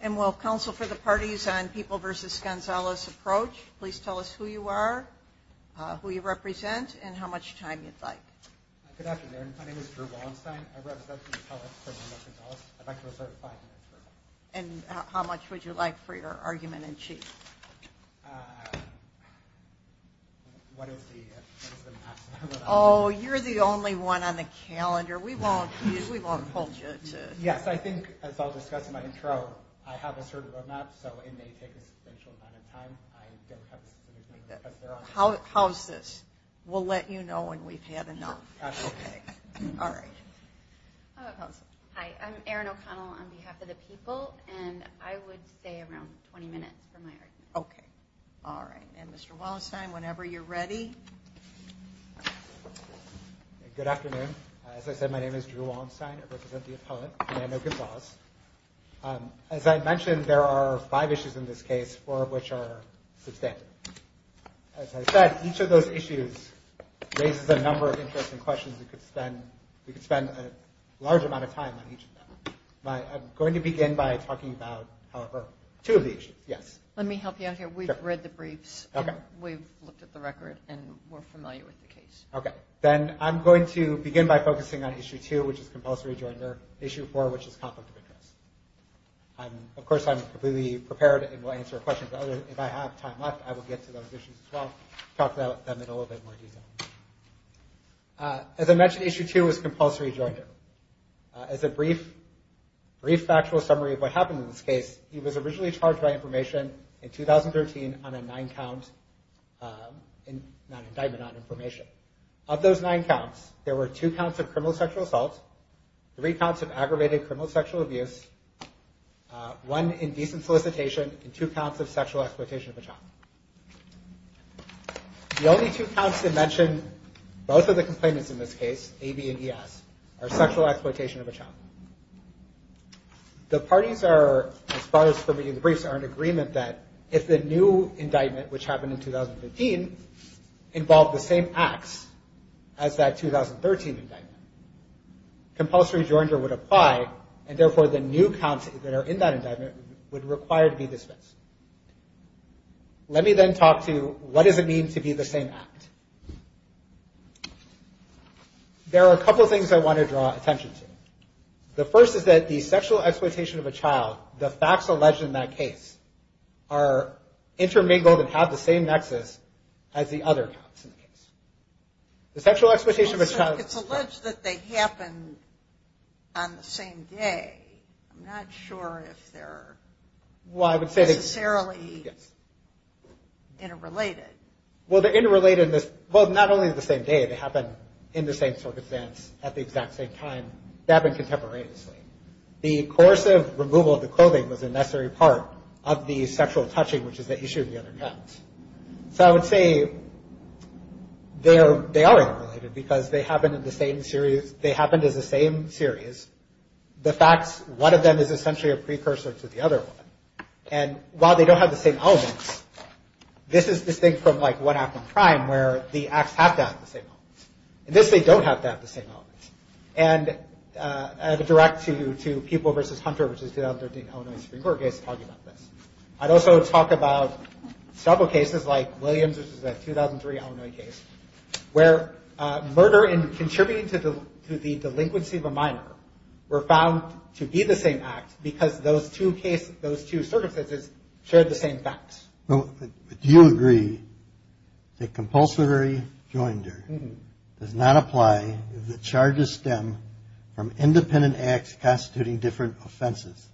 and will counsel for the parties on People v. Gonzalez approach. Please tell us who you are, who you represent, and how much time you'd like. Good afternoon. My name is Drew Wallenstein. I represent People v. Gonzalez. I'd like to reserve five minutes for questions. And how much would you like for your argument in chief? Oh, you're the only one on the calendar. We won't hold you to it. Yes, I think, as I'll discuss in my intro, I haven't heard of him. I'm not so inmate. How's this? We'll let you know when we've had enough. Okay. All right. Hi. I'm Erin O'Connell on behalf of the People, and I would stay around 20 minutes for my argument. Okay. All right. And Mr. Wallenstein, whenever you're ready. Good afternoon. As I said, my name is Drew Wallenstein. I represent the opponent, and I know Gonzalez. As I mentioned, there are five issues in this case, four of which are substantive. As I said, each of those issues raises a number of interesting questions. We could spend a large amount of time on each of them. I'm going to begin by talking about two of these. Yes. Let me help you out here. We've read the briefs. Okay. We've looked at the records, and we're familiar with the case. Okay. Then I'm going to begin by focusing on issue two, which is compulsory during their issue four, which is complicity. Of course, I'm completely prepared and will answer questions. If I have time left, I will get to those issues as well, talk about them in a little bit more detail. As I mentioned, issue two was compulsory during them. As a brief factual summary of what happened in this case, he was originally charged by information in 2013 on a nine-count indictment on information. Okay. Of those nine counts, there were two counts of criminal sexual assault, three counts of aggravated criminal sexual abuse, one in decent solicitation, and two counts of sexual exploitation of a child. The only two counts to mention, both of the complainants in this case, A, B, and D, are sexual exploitation of a child. The parties are, as far as submitting briefs, are in agreement that if the new indictment, which happened in 2015, involved the same acts as that 2013 indictment, compulsory during it would apply, and therefore the new counts that are in that indictment would require to be dispensed. Let me then talk to what does it mean to be the same act. There are a couple of things I want to draw attention to. The first is that the sexual exploitation of a child, the facts alleged in that case, are intermingled and have the same nexus as the other facts in the case. The sexual exploitation of a child- It's alleged that they happened on the same day. I'm not sure if they're necessarily interrelated. Well, they're interrelated in this- The course of removal of the clothing was a necessary part of the sexual touching, which is the issue of the other counts. So I would say they are interrelated because they happened in the same series. The fact, one of them is essentially a precursor to the other one. And while they don't have the same elements, this is distinct from like one act on crime, where the acts have that same element. In this case, they don't have that same element. And a direct to people versus Hunter versus 2013 Illinois Supreme Court case argument. I'd also talk about several cases like Williams versus the 2003 Illinois case, where murder and contributing to the delinquency of a minor were found to be the same act because those two cases, those two certificates, shared the same facts. Do you agree that compulsory joinder does not apply if the charges stem from independent acts constituting different offenses,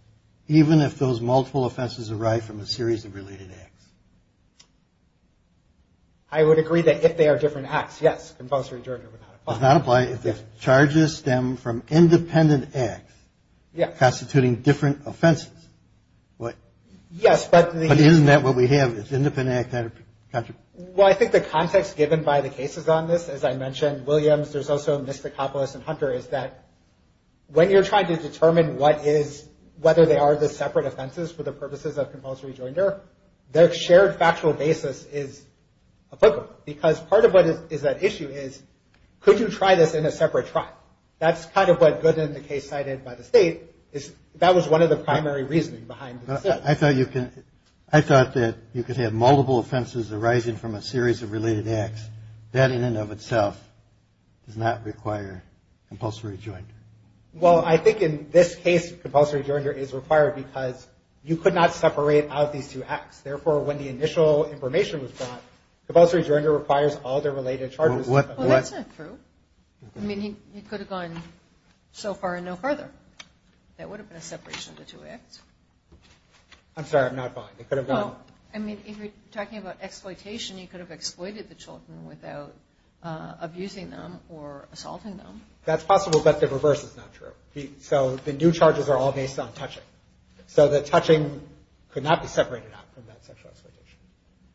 even if those multiple offenses arrive from a series of related acts? I would agree that if they are different acts, yes, compulsory joinder does not apply. Does not apply if the charges stem from independent acts constituting different offenses? Yes. But isn't that what we have? It's independent acts out of contract. Well, I think the context given by the cases on this, as I mentioned, Williams, there's also Miskakopoulos and Hunter, is that when you're trying to determine what is, whether they are the separate offenses for the purposes of compulsory joinder, their shared factual basis is applicable. Because part of what is at issue is, could you try this in a separate trial? That's kind of what Gooden, the case cited by the state, that was one of the primary reasons behind it. I thought that you could have multiple offenses arising from a series of related acts. That in and of itself does not require compulsory joinder. Well, I think in this case, compulsory joinder is required because you could not separate out these two acts. Therefore, when the initial information was brought, compulsory joinder requires all the related charges. Well, that's not true. I mean, he could have gone so far and no farther. That would have been a separation of the two acts. I'm sorry, I'm not buying it. I mean, if you're talking about exploitation, you could have exploited the children without abusing them or assaulting them. That's possible, but the reverse is not true. So the new charges are all based on touching. So the touching could not be separated out from that sexual exploitation.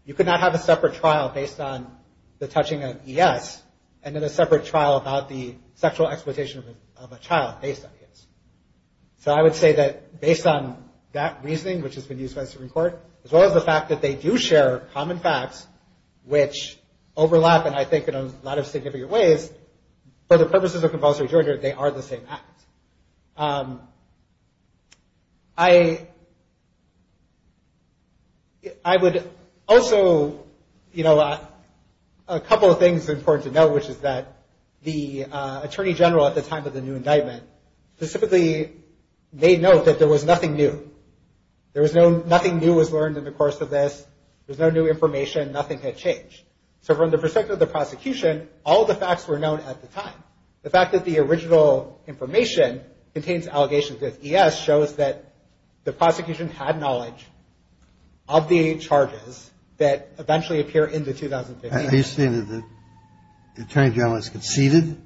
You could not have a separate trial based on the touching of EX and then a separate trial about the sexual exploitation of a child based on the EX. So I would say that based on that reasoning, which has been used by the Supreme Court, as well as the fact that they do share common facts which overlap, and I think in a lot of significant ways, for the purposes of compulsory joinder, they are the same act. I would also, you know, a couple of things important to note, which is that the Attorney General at the time of the new indictment specifically made note that there was nothing new. Nothing new was learned in the course of this. There's no new information. Nothing had changed. So from the perspective of the prosecution, all the facts were known at the time. The fact that the original information contains allegations of EX shows that the prosecution had knowledge of the charges that eventually appear in the 2016 indictment. Are you saying that the Attorney General has conceded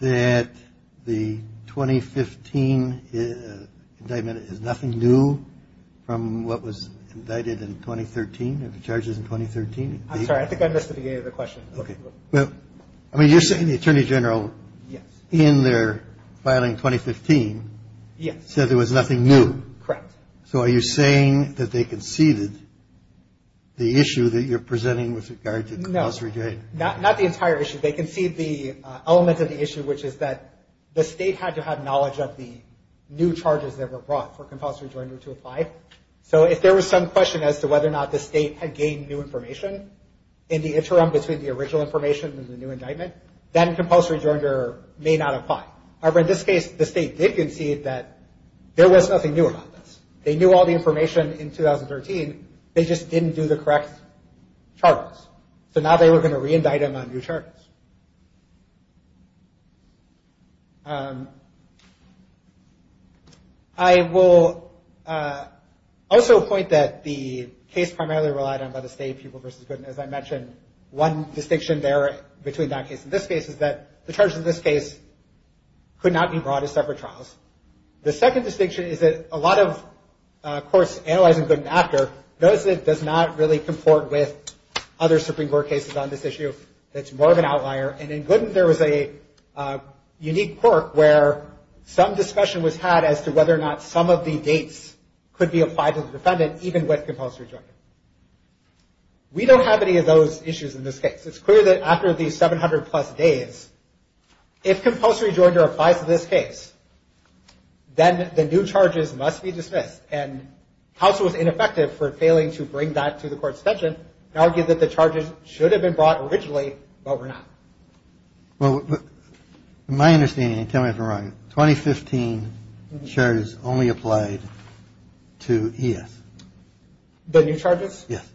that the 2015 indictment, there's nothing new from what was indicted in 2013, of the charges in 2013? I'm sorry, I think I missed the beginning of the question. I mean, you're saying the Attorney General, in their filing 2015, said there was nothing new. Correct. So are you saying that they conceded the issue that you're presenting with regards to compulsory joining? No, not the entire issue. They conceded the element of the issue, which is that the state had to have knowledge of the new charges that were brought for compulsory joinder to apply. So if there was some question as to whether or not the state had gained new information, in the interim between the original information and the new indictment, then compulsory joinder may not apply. However, in this case, the state did concede that there was nothing new about this. They knew all the information in 2013, they just didn't do the correct charges. So now they were going to reindict them on new charges. I will also point that the case primarily relied on by the state, Pupil v. Gooden, as I mentioned, one distinction there between that case and this case is that the charges in this case could not be brought to separate trials. The second distinction is that a lot of courts analyzing Gooden after notice that it does not really comport with other Supreme Court cases on this issue. It's more of an outlier. And in Gooden, there was a unique quirk where some discussion was had as to whether or not some of the dates could be applied to the defendant even with compulsory joinder. We don't have any of those issues in this case. It's clear that after these 700 plus days, if compulsory joinder applies in this case, then the new charges must be dismissed. And House was ineffective for failing to bring that to the court's attention and argued that the charges should have been brought originally, but were not. Well, my understanding, and tell me if I'm wrong, 2015 charges only applied to ES. The new charges? Yes.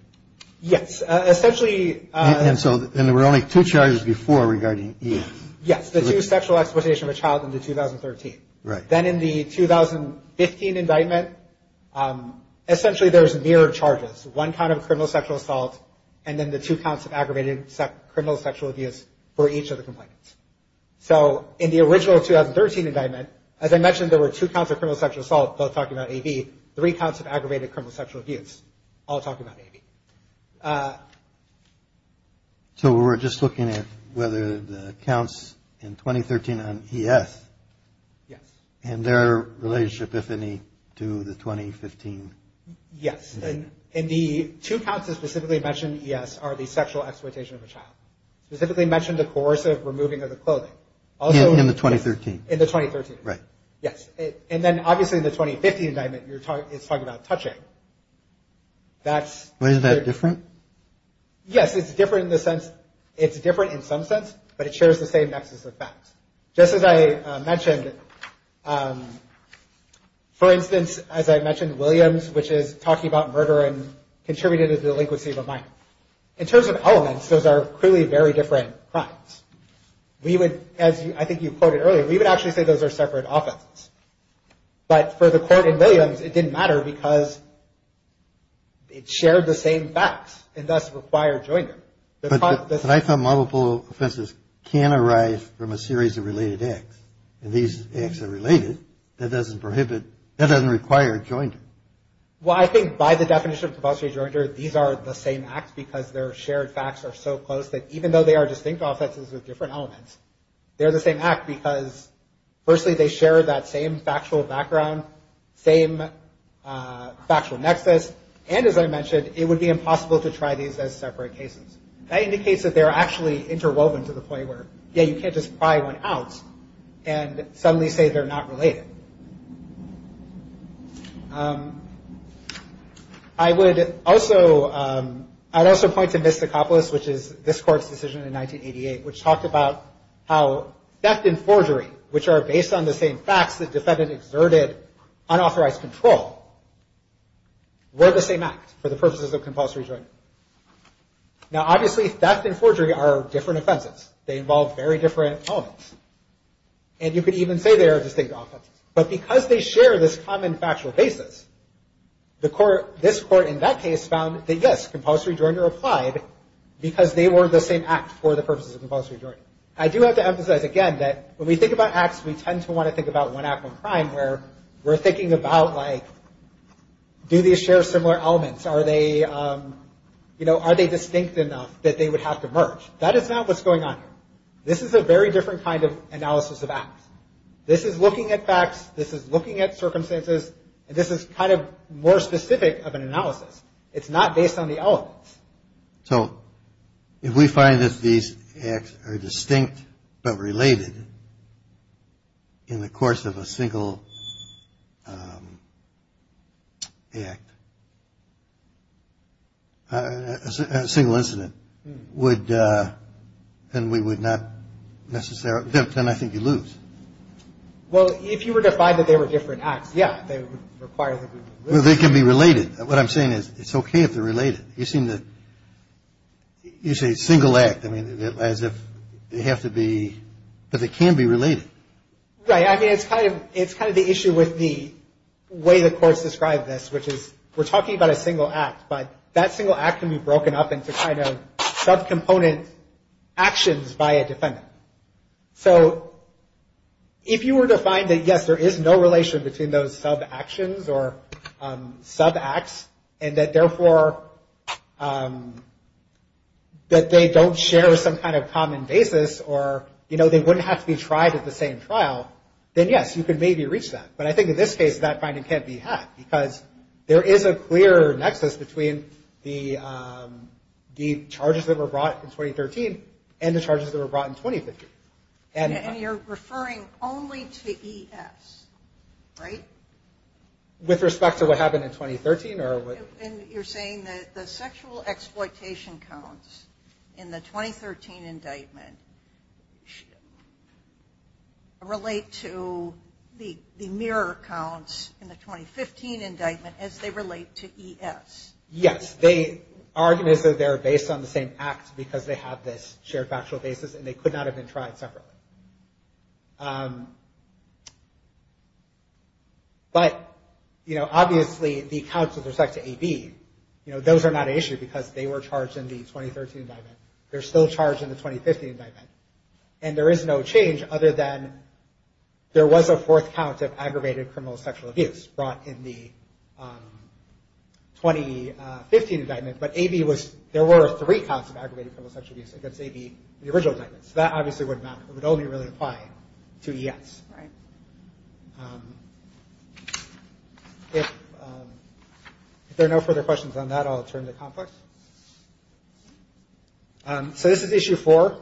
Yes, essentially... And so there were only two charges before regarding ES. Yes, the two sexual exploitation of a child in 2013. Then in the 2015 indictment, essentially there's mere charges. One count of criminal sexual assault, and then the two counts of aggravated criminal sexual abuse for each of the complaints. So in the original 2013 indictment, as I mentioned, there were two counts of criminal sexual assault, both talking about AV, three counts of aggravated criminal sexual abuse, all talking about AV. So we're just looking at whether the counts in 2013 on ES and their relationship, if any, to the 2015... Yes. And the two counts that specifically mention ES are the sexual exploitation of a child. Specifically mentioned the coercive removing of the clothing. In the 2013? In the 2013. Right. Yes. And then obviously the 2015 indictment is talking about touching. Is that different? Yes, it's different in the sense... It's different in some sense, but it shares the same nexus effect. Just as I mentioned, for instance, as I mentioned, Williams, which is talking about murder and contributed a delinquency of a minor. In terms of elements, those are clearly very different crimes. We would, as I think you quoted earlier, we would actually say those are separate offenses. But for the court in Williams, it didn't matter because it shared the same facts, and thus the fire joined it. But I found multiple offenses can arise from a series of related acts. And these acts are related. That doesn't prohibit... That doesn't require a jointer. Well, I think by the definition of compulsory jointer, these are the same act because their shared facts are so close that even though they are distinct offenses with different elements, they're the same act because firstly, they share that same factual background, same factual nexus, and as I mentioned, it would be impossible to try these as separate cases. That indicates that they're actually interwoven to the point where, yeah, you can't just pry one out and suddenly say they're not related. I would also point to Miskopoulos, which is this court's decision in 1988, which talks about how theft and forgery, which are based on the same facts, because the defendant exerted unauthorized control, were the same acts for the purposes of compulsory jointer. Now, obviously, theft and forgery are different offenses. They involve very different elements. And you could even say they are distinct offenses. But because they share this common factual basis, this court in that case found that, yes, compulsory jointer applied because they were the same act for the purposes of compulsory jointer. I do have to emphasize again that when we think about acts, we tend to want to think about one act of crime where we're thinking about, like, do these share similar elements? Are they, you know, are they distinct enough that they would have to merge? That is not what's going on here. This is a very different kind of analysis of acts. This is looking at facts. This is looking at circumstances. And this is kind of more specific of an analysis. It's not based on the elements. So, if we find that these acts are distinct but related in the course of a single act, a single incident, would, then we would not necessarily, then I think you lose. Well, if you were to find that they were different acts, yes, they would require that they be related. They can be related. What I'm saying is it's okay if they're related. You seem to, you say single act. I mean, as if they have to be, because they can be related. Right. I mean, it's kind of the issue with the way the course describes this, which is we're talking about a single act, but that single act can be broken up into kind of subcomponent actions by a defendant. So, if you were to find that, yes, there is no relation between those subactions or subacts and that, therefore, that they don't share some kind of common basis or, you know, they wouldn't have to be tried at the same trial, then, yes, you could maybe reach that. But I think in this case, that finding can't be had because there is a clear nexus between the charges that were brought in 2013 and the charges that were brought in 2015. And you're referring only to ES, right? With respect to what happened in 2013? You're saying that the sexual exploitation counts in the 2013 indictment relate to the mirror counts in the 2015 indictment as they relate to ES. Yes. They argue that they're based on the same act because they have this shared factual basis and they could not have been tried separately. But, you know, obviously, these counts with respect to AB, you know, those are not an issue because they were charged in the 2013 indictment. They're still charged in the 2015 indictment. And there is no change other than there was a fourth count of aggravated criminal sexual abuse brought in the 2015 indictment, but AB was, there were three counts of aggravated criminal sexual abuse against AB, the original indictment. So that obviously would not, would only really apply to ES, right? If there are no further questions on that, I'll turn to complex. So this is issue four.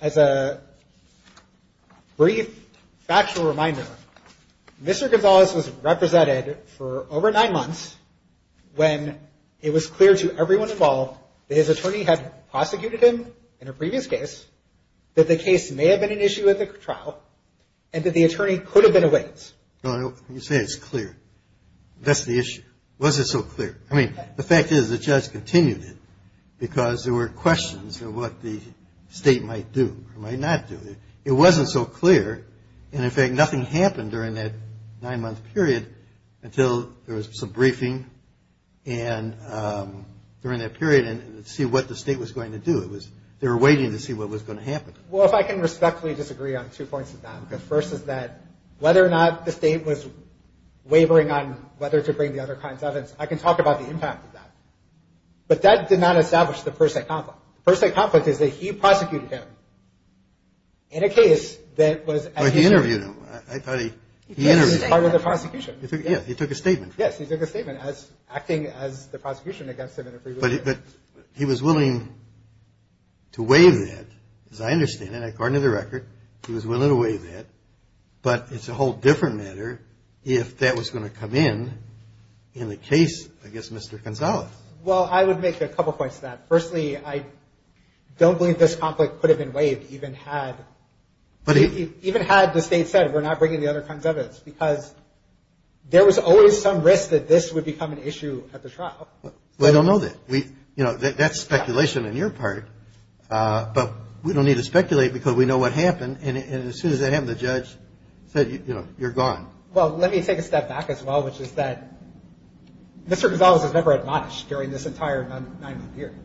As a brief factual reminder, Mr. DuBois was represented for over nine months when it was clear to everyone involved that his attorney had prosecuted him in a previous case, that the case may have been an issue at the trial, and that the attorney could have been a witness. You say it's clear. That's the issue. Why is it so clear? I mean, the fact is it just continued it because there were questions of what the state might do or might not do. It wasn't so clear. And, in fact, nothing happened during that nine-month period until there was some briefing and during that period to see what the state was going to do. It was, they were waiting to see what was going to happen. Well, if I can respectfully disagree on two points of that. The first is that whether or not the state was wavering on whether to bring the other kind of evidence, I can talk about the impact of that. But that did not establish the first act conflict. The first act conflict is that he prosecuted him in a case that was... But he interviewed him. I thought he... He interviewed him as part of the prosecution. Yeah, he took a statement. Yes, he took a statement as acting as the prosecution against him in a previous case. But he was willing to waive that. As I understand it, according to the record, he was willing to waive that. But it's a whole different matter if that was going to come in in the case against Mr. Gonzalez. Well, I would make a couple points to that. Firstly, I don't believe this conflict could have been waived even had... But he... Even had the state said, we're not bringing the other kind of evidence. Because there was always some risk that this would become an issue at the trial. Well, I don't know that. You know, that's speculation on your part. But we don't need to speculate because we know what happened. And as soon as they have the judge, you know, you're gone. Well, let me take a step back as well, which is that Mr. Gonzalez was never at loss during this entire nine-month period.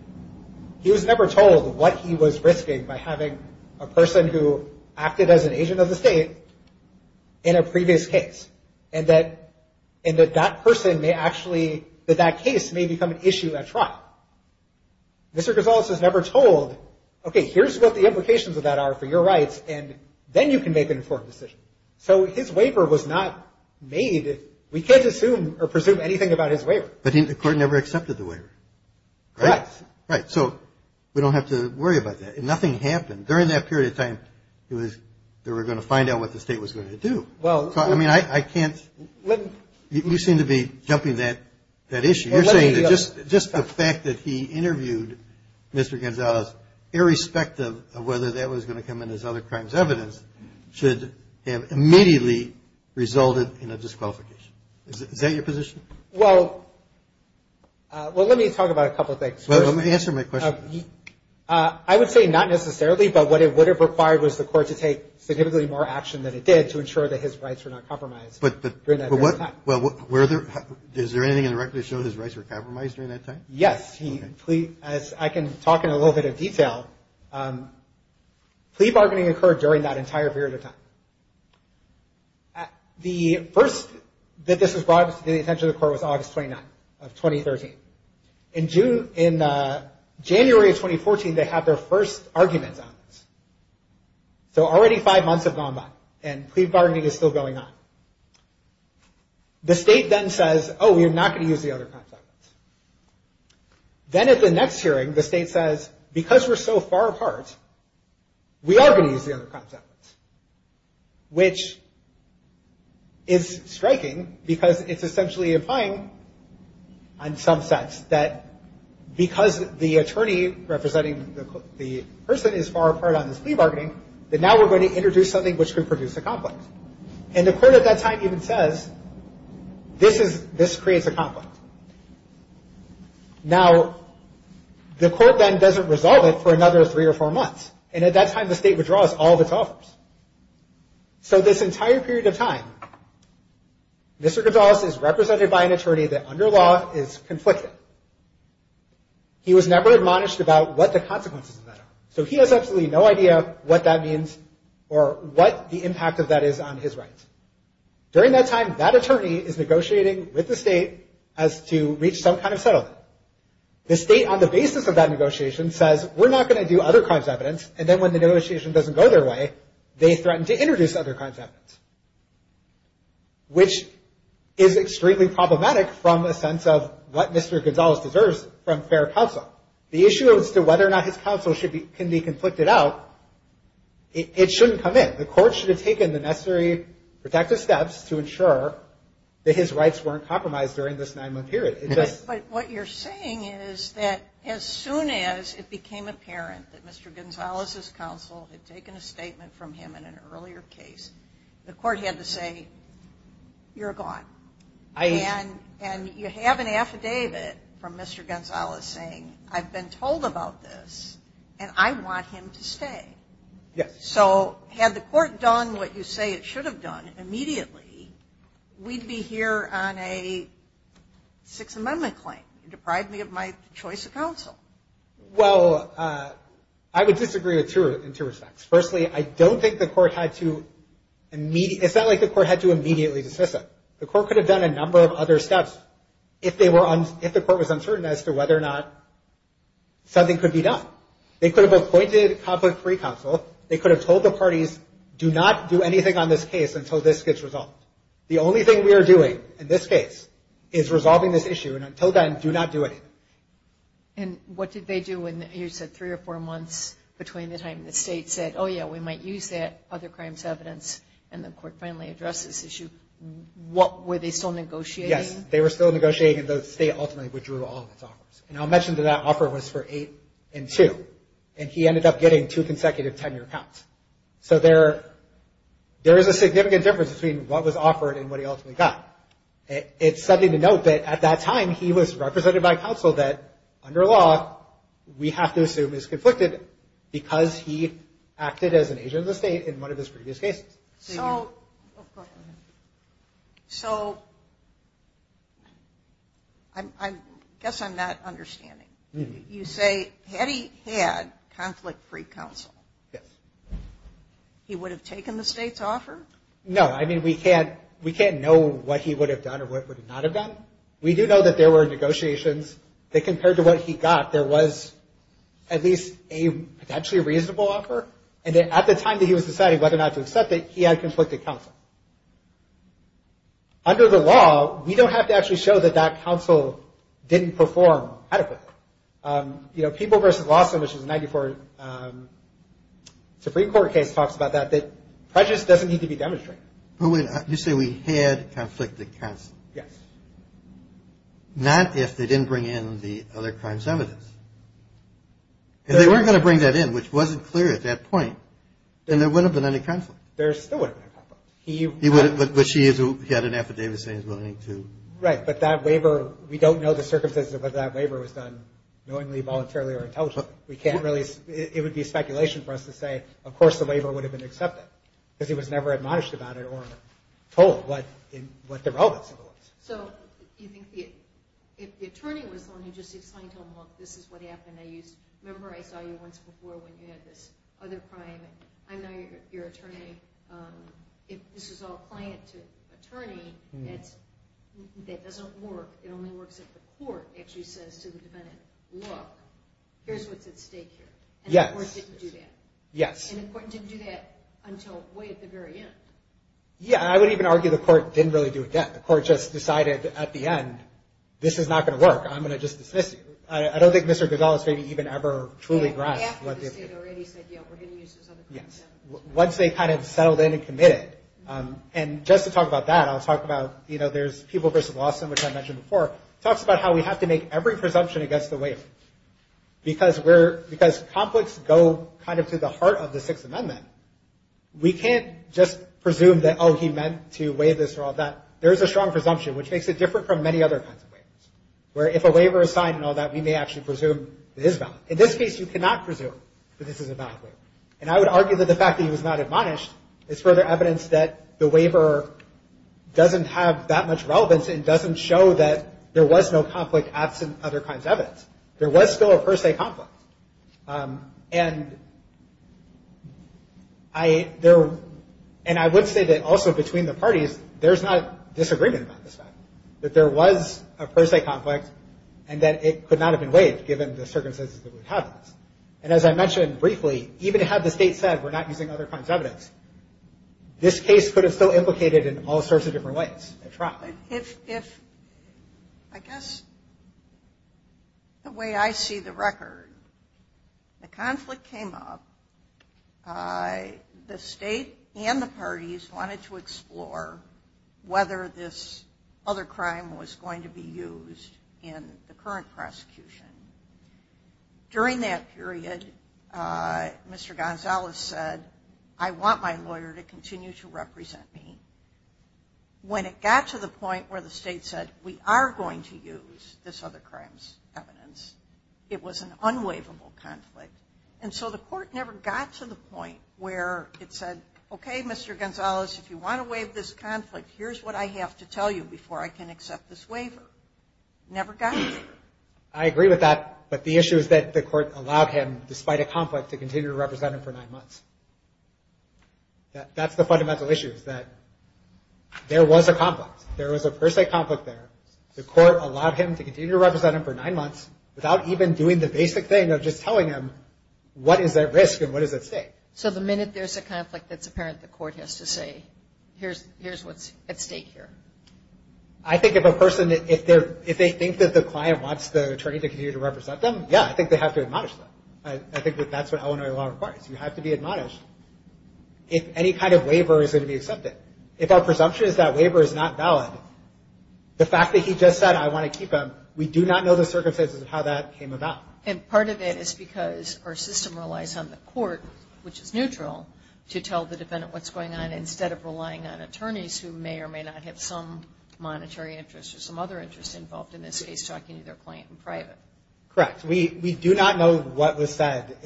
He was never told what he was risking by having a person who acted as an agent of the state in a previous case. And that that person may actually... That that case may become an issue at trial. Mr. Gonzalez was never told, okay, here's what the implications of that are for your rights, and then you can make an important decision. So his waiver was not made... We can't assume or presume anything about his waiver. But the court never accepted the waiver. Right? Right. So we don't have to worry about that. And nothing happened. During that period of time, they were going to find out what the state was going to do. Well... I mean, I can't... Let me... You seem to be jumping that issue. You're saying that just the fact that he interviewed Mr. Gonzalez, irrespective of whether that was going to come in as other crimes evidence, should have immediately resulted in a disqualification. Is that your position? Well, let me talk about a couple of things. Let me answer my question first. I would say not necessarily, but what it would have required was the court to take significantly more action than it did to ensure that his rights were not compromised during that period of time. Well, is there anything in the record that showed his rights were compromised during that time? Yes. I can talk in a little bit of detail. Plea bargaining occurred during that entire period of time. The first that this was brought to the attention of the court was August 29th of 2013. In January of 2014, they had their first argument on this. So already five months have gone by, and plea bargaining is still going on. The state then says, oh, we're not going to use the other crimes evidence. Then at the next hearing, the state says, because we're so far apart, we are going to use the other crimes evidence. Which is striking, because it's essentially implying, in some sense, that because the attorney representing the person is far apart on this plea bargaining, that now we're going to introduce something which could produce a conflict. And the court at that time even says, this creates a conflict. Now, the court then doesn't resolve it for another three or four months. And at that time, the state withdraws all of its offers. So this entire period of time, Mr. Gonzalez is represented by an attorney that, under law, is conflicted. He was never admonished about what the consequences of that are. So he has absolutely no idea what that means or what the impact of that is on his rights. During that time, that attorney is negotiating with the state as to reach some kind of settlement. The state, on the basis of that negotiation, says, we're not going to do other crimes evidence. And then when the negotiation doesn't go their way, they threaten to introduce other contracts. Which is extremely problematic from a sense of what Mr. Gonzalez deserves from fair counsel. The issue as to whether or not his counsel can be conflicted out, it shouldn't come in. The court should have taken the necessary protective steps to ensure that his rights weren't compromised during this nine-month period. But what you're saying is that as soon as it became apparent that Mr. Gonzalez's counsel had taken a statement from him in an earlier case, the court had to say, you're gone. And you have an affidavit from Mr. Gonzalez saying, I've been told about this, and I want him to stay. So had the court done what you say it should have done immediately, we'd be here on a Sixth Amendment claim. Deprive me of my choice of counsel. Well, I would disagree in two respects. Firstly, I don't think the court had to immediately, it's not like the court had to immediately dismiss him. The court could have done a number of other steps if the court was uncertain as to whether or not something could be done. They could have appointed conflict-free counsel. They could have told the parties, do not do anything on this case until this gets resolved. The only thing we are doing in this case is resolving this issue, and until then, do not do anything. And what did they do when you said three or four months between the time the state said, oh, yeah, we might use that other crimes evidence, and the court finally addressed this issue? Were they still negotiating? Yes, they were still negotiating, and the state ultimately withdrew all of its offers. And I'll mention that that offer was for eight and two, and he ended up getting two consecutive tenure cuts. So there is a significant difference between what was offered and what he ultimately got. It's something to note that at that time, he was represented by counsel that, under law, we have to assume is conflicted because he acted as an agent of the state in one of his previous cases. So I guess I'm not understanding. You say, had he had conflict-free counsel, he would have taken the state's offer? No. I mean, we can't know what he would have done or what he would not have done. We do know that there were negotiations that, compared to what he got, there was at least a potentially reasonable offer. And at the time that he was deciding whether or not to accept it, he had conflicted counsel. Under the law, we don't have to actually show that that counsel didn't perform adequately. You know, People v. Law, which is a 94 Supreme Court case, talks about that, that prejudice doesn't need to be demonstrated. You say we had conflicted counsel. Yes. Not if they didn't bring in the other crimes evidence. If they weren't going to bring that in, which wasn't clear at that point, then there wouldn't have been any counsel. There still wouldn't have been counsel. But she had an affidavit saying he was willing to. Right. But that waiver, we don't know the circumstances of whether that waiver was done knowingly, voluntarily, or intentionally. We can't really, it would be speculation for us to say, of course the waiver would have been accepted because he was never admonished about it or told what the relevance was. So, you think if the attorney was going to just explain to him, look, this is what happened. Now, you remember I saw you once before when you had this other crime. I know you're attorney, this is all client to attorney, and that doesn't work. It only works if the court actually says to the defendant, look, here's what's at stake here. Yes. And the court didn't do that. Yes. And the court didn't do that until way at the very end. Yeah, I would even argue the court didn't really do that. The court just decided at the end, this is not going to work. I'm going to just dismiss you. I don't think Mr. Gazzella is even ever truly right. He already said, yeah, we're going to use this other presumption. Once they kind of settled in and committed. And just to talk about that, I'll talk about, you know, there's People v. Lawson, which I mentioned before, talks about how we have to make every presumption against the waiver. Because conflicts go kind of to the heart of the Sixth Amendment. We can't just presume that, oh, he meant to waive this or all that. There's a strong presumption, which makes it different from many other kinds of waivers, where if a waiver is signed and all that, we may actually presume it is valid. In this case, you cannot presume that this is a valid waiver. And I would argue that the fact that it was not admonished is further evidence that the waiver doesn't have that much relevance and doesn't show that there was no conflict absent other kinds of evidence. There was still a first-day conflict. And I would say that also between the parties, there's not disagreement about this stuff, that there was a first-day conflict and that it could not have been waived given the circumstances that it was held in. And as I mentioned briefly, even had the state said we're not using other kinds of evidence, this case could have still implicated in all sorts of different ways. If, I guess, the way I see the record, the conflict came up, the state and the parties wanted to explore whether this other crime was going to be used in the current prosecution. During that period, Mr. Gonzalez said, I want my lawyer to continue to represent me. When it got to the point where the state said we are going to use this other crime's evidence, it was an unwaivable conflict. And so the court never got to the point where it said, okay, Mr. Gonzalez, if you want to waive this conflict, here's what I have to tell you before I can accept this waiver. Never got there. I agree with that, but the issue is that the court allowed him, despite a conflict, to continue to represent him for nine months. That's the fundamental issue is that there was a conflict. There was a per se conflict there. The court allowed him to continue to represent him for nine months without even doing the basic thing of just telling him what is at risk and what is at stake. So the minute there's a conflict, it's apparent the court has to say, here's what's at stake here. I think if a person, if they think that the client wants the attorney to continue to represent them, yeah, I think they have to admonish them. I think that that's what Illinois law requires. You have to be admonished if any kind of waiver is going to be accepted. If our presumption is that waiver is not valid, the fact that he just said, I want to keep him, we do not know the circumstances of how that came about. And part of it is because our system relies on the court, which is neutral, to tell the defendant what's going on instead of relying on attorneys who may or may not have some monetary interest or some other interest involved in this case so I can either claim it in private. Correct. We do not know what was said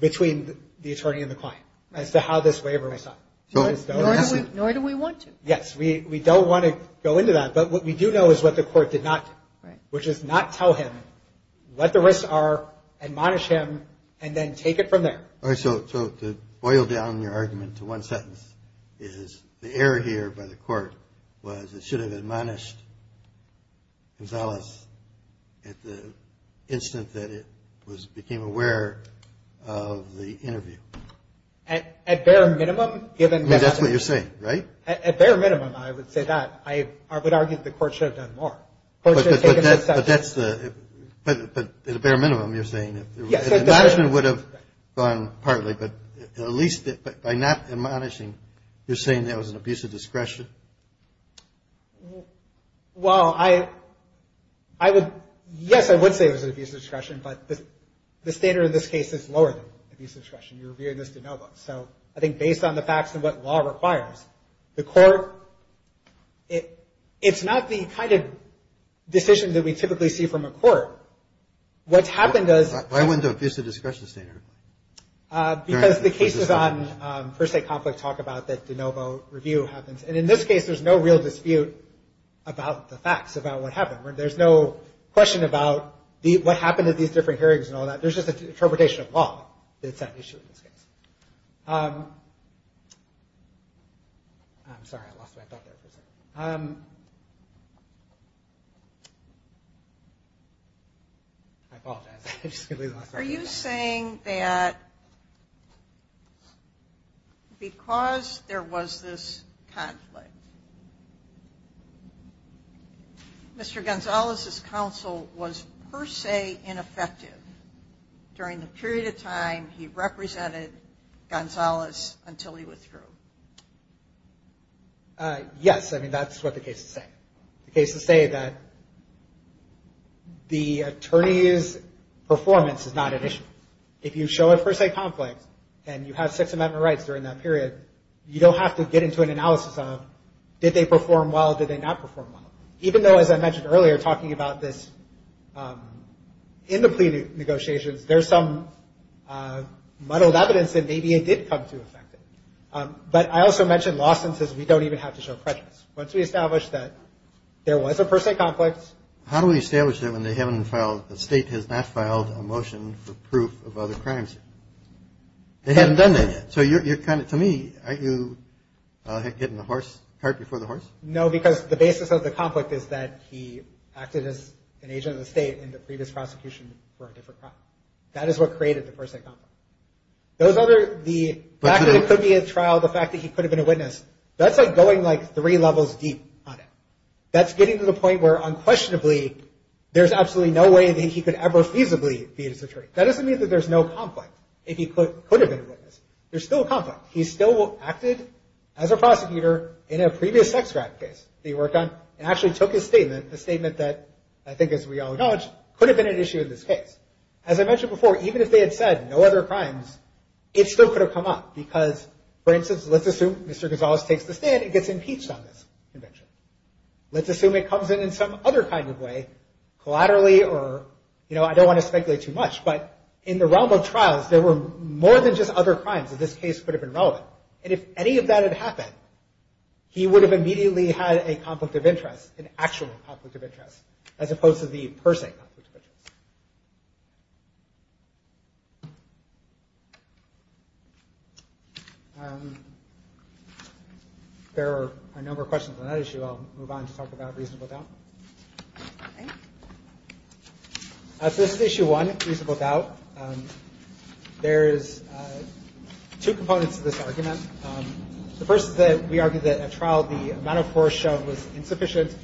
between the attorney and the client as to how this waiver was done. Nor do we want to. Yes. We don't want to go into that. But what we do know is what the court did not, which is not tell him what the risks are, admonish him, and then take it from there. All right. So to boil down your argument to one sentence is the error here by the court was it should have admonished Gonzalez at the instant that it became aware of the interview. At bare minimum, given that. That's what you're saying, right? At bare minimum, I would say that. I would argue that the court should have done more. But that's the, at a bare minimum, you're saying. Yes. Admonishing would have gone partly, but at least by not admonishing, you're saying that was an abuse of discretion. Well, I would, yes, I would say it was an abuse of discretion, but the standard in this case is lower than abuse of discretion. So I think based on the facts and what law requires, the court, it's not the kind of decision that we typically see from a court. What's happened is. Why wouldn't it be an abuse of discretion standard? Because the cases on First State Complex talk about that de novo review happens. And in this case, there's no real dispute about the facts, about what happened. There's no question about what happened at these different hearings and all that. There's just an interpretation of law. It's that issue in this case. I'm sorry, I lost my thought there for a second. I apologize. Are you saying that because there was this conflict, Mr. Gonzalez's counsel was per se ineffective during the period of time he represented Gonzalez until he withdrew? Yes, I mean, that's what the case is saying. The case is saying that the attorney's performance is not an issue. If you show a First State Complex and you have six amendment rights during that period, you don't have to get into an analysis of did they perform well, did they not perform well. Even though, as I mentioned earlier, talking about this in the plea negotiations, there's some muddled evidence that maybe it did come to an effect. But I also mentioned lawsuits. We don't even have to show prejudice. Once we establish that there was a First State Complex. How do we establish that when the state has not filed a motion for proof of other crimes? They haven't done that yet. So to me, aren't you hitting the cart before the horse? No, because the basis of the conflict is that he acted as an agent of the state in the previous prosecution for a different crime. That is what created the First State Complex. The fact that he could be in trial, the fact that he could have been a witness, that's like going like three levels deep on it. That's getting to the point where, unquestionably, there's absolutely no way that he could ever feasibly be a suspect. That doesn't mean that there's no conflict, if he could have been a witness. There's still a conflict. He still acted as a prosecutor in a previous extract case that he worked on and actually took his statement, a statement that, I think as we all acknowledge, could have been an issue in this case. As I mentioned before, even if they had said no other crimes, it still could have come up because, for instance, let's assume Mr. Gonzalez takes the stand and gets impeached on this conviction. Let's assume it comes in in some other kind of way, collaterally or, you know, I don't want to speculate too much, but in the realm of trials, there were more than just other crimes that this case could have been relevant. And if any of that had happened, he would have immediately had a conflict of interest, an actual conflict of interest, as opposed to the per se conflict of interest. There are a number of questions on that issue. I'll move on to talk about reasonable doubt. This is issue one, reasonable doubt. There's two components to this argument. The first is that we argue that at trial, the amount of force shown was insufficient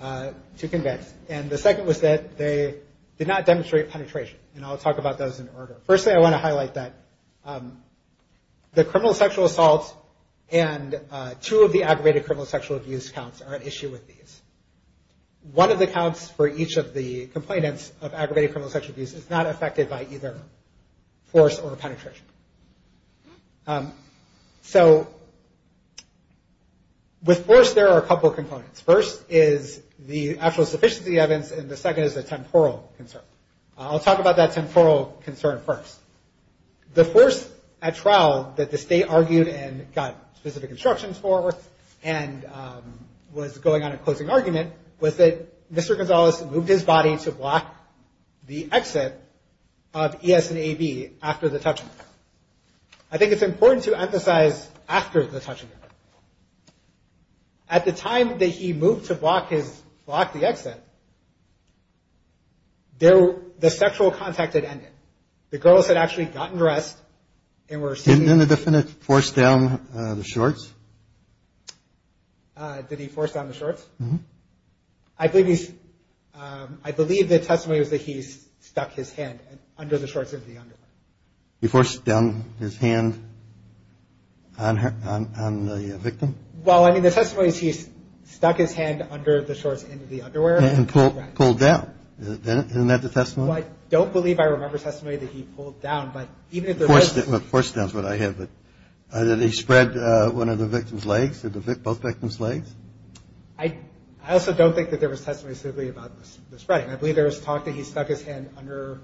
to condemn. And the second was that they did not demonstrate penetration. And I'll talk about those in order. First thing I want to highlight is that the criminal sexual assault and two of the aggravated criminal sexual abuse counts are at issue with these. One of the counts for each of the complainants of aggravated criminal sexual abuse is not affected by either force or penetration. So with force, there are a couple of components. First is the actual sufficiency of the evidence, and the second is the temporal concern. I'll talk about that temporal concern first. The first at trial that the state argued and got specific instructions for and was going on a closing argument was that Mr. Gonzalez moved his body to block the exit of E.S. and A.D. after the touching event. I think it's important to emphasize after the touching event. At the time that he moved to block the exit, the sexual contact had ended. The girls had actually gotten dressed and were sitting... Didn't the defendant force down the shorts? Did he force down the shorts? I believe the testimony is that he stuck his hand under the shorts of the underwear. He forced down his hand on the victim? Well, I mean, the testimony is he stuck his hand under the shorts of the underwear. And pulled down. Isn't that the testimony? Well, I don't believe I remember the testimony that he pulled down. But force down is what I have. Did he spread one of the victim's legs? Both victim's legs? I also don't think that there was testimony specifically about the spreading. I believe there was talk that he stuck his hand under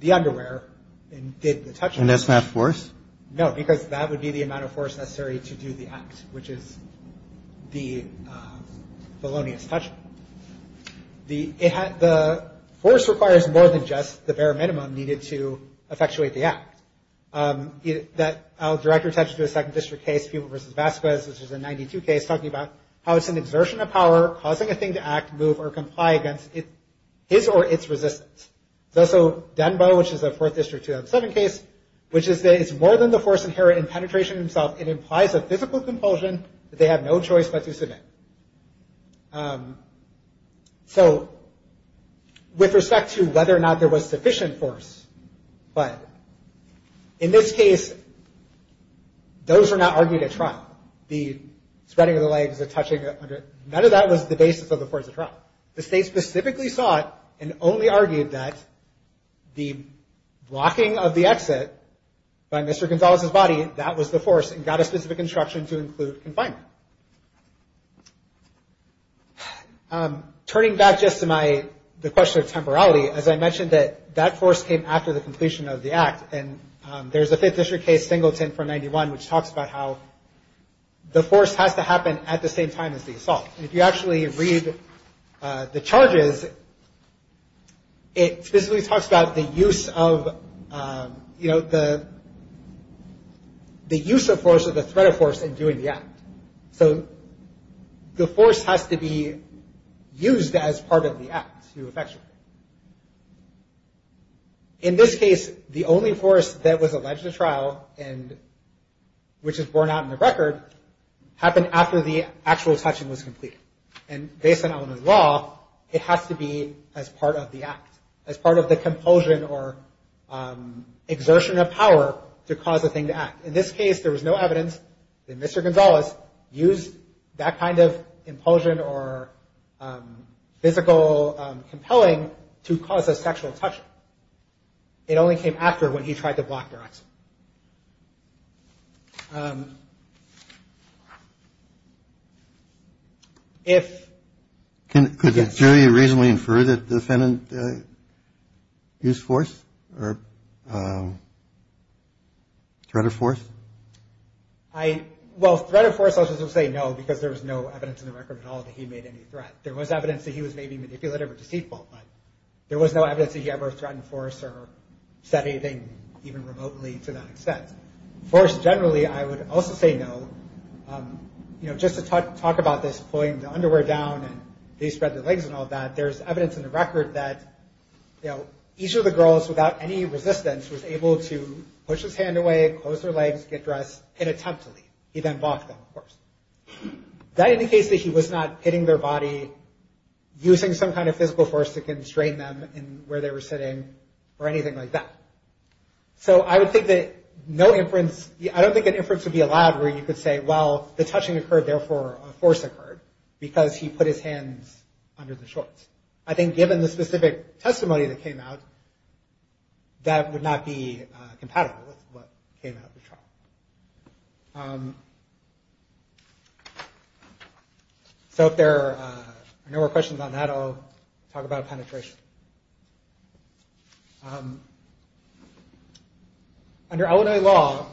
the underwear and did the touching. And that's not force? No, because that would be the amount of force necessary to do the act, which is the felonious touching. The force requires more than just the bare minimum needed to effectuate the act. I'll direct your attention to a second district case, Puma v. Vasquez, which is a 92 case, talking about how it's an exertion of power causing a thing to act, move, or comply against its or its resistance. There's also Denbo, which is a 4th District 207 case, which is that it's more than the force inherent in penetration itself. It implies a physical compulsion that they have no choice but to submit. So, with respect to whether or not there was sufficient force, but in this case, those were not argued at trial. The spreading of the legs, the touching, none of that was the basis of the force at trial. The state specifically saw it and only argued that the blocking of the exit by Mr. Gonzalez's body, that was the force and got a specific instruction to include confinement. Turning back just to the question of temporality, as I mentioned, that force came after the completion of the act, and there's a 5th District case, Singleton v. 91, which talks about how the force had to happen at the same time as the assault. If you actually read the charges, it specifically talks about the use of, you know, the use of force as a threat of force in doing the act. So, the force has to be used as part of the act to effect it. In this case, the only force that was alleged at trial, and which is borne out in the record, happened after the actual touching was complete. And based on elementary law, it has to be as part of the act, as part of the compulsion or exertion of power to cause the thing to act. In this case, there was no evidence that Mr. Gonzalez used that kind of impulsion or physical compelling to cause a sexual touch. It only came after when he tried to block the exit. Could the jury reasonably infer that the defendant used force or threat of force? Well, threat of force, I would say no, because there was no evidence in the record at all that he made any threats. There was evidence that he was maybe manipulative or deceitful, but there was no evidence that he ever threatened force or said anything even remotely to that extent. Force, generally, I would also say no. You know, just to talk about this pulling the underwear down and they spread their legs and all that, there's evidence in the record that, you know, each of the girls, without any resistance, was able to push his hand away, close their legs, get dressed, and attempt to leave. He then blocked them, of course. That indicates that he was not hitting their body, using some kind of physical force to constrain them in where they were sitting, or anything like that. So I would say that no inference, I don't think an inference would be allowed where you could say, well, the touching occurred, therefore a force occurred, because he put his hand under the shorts. I think given the specific testimony that came out, that would not be compatible with what came out of the trial. So if there are no more questions on that, I'll talk about penetration. Under Illinois law,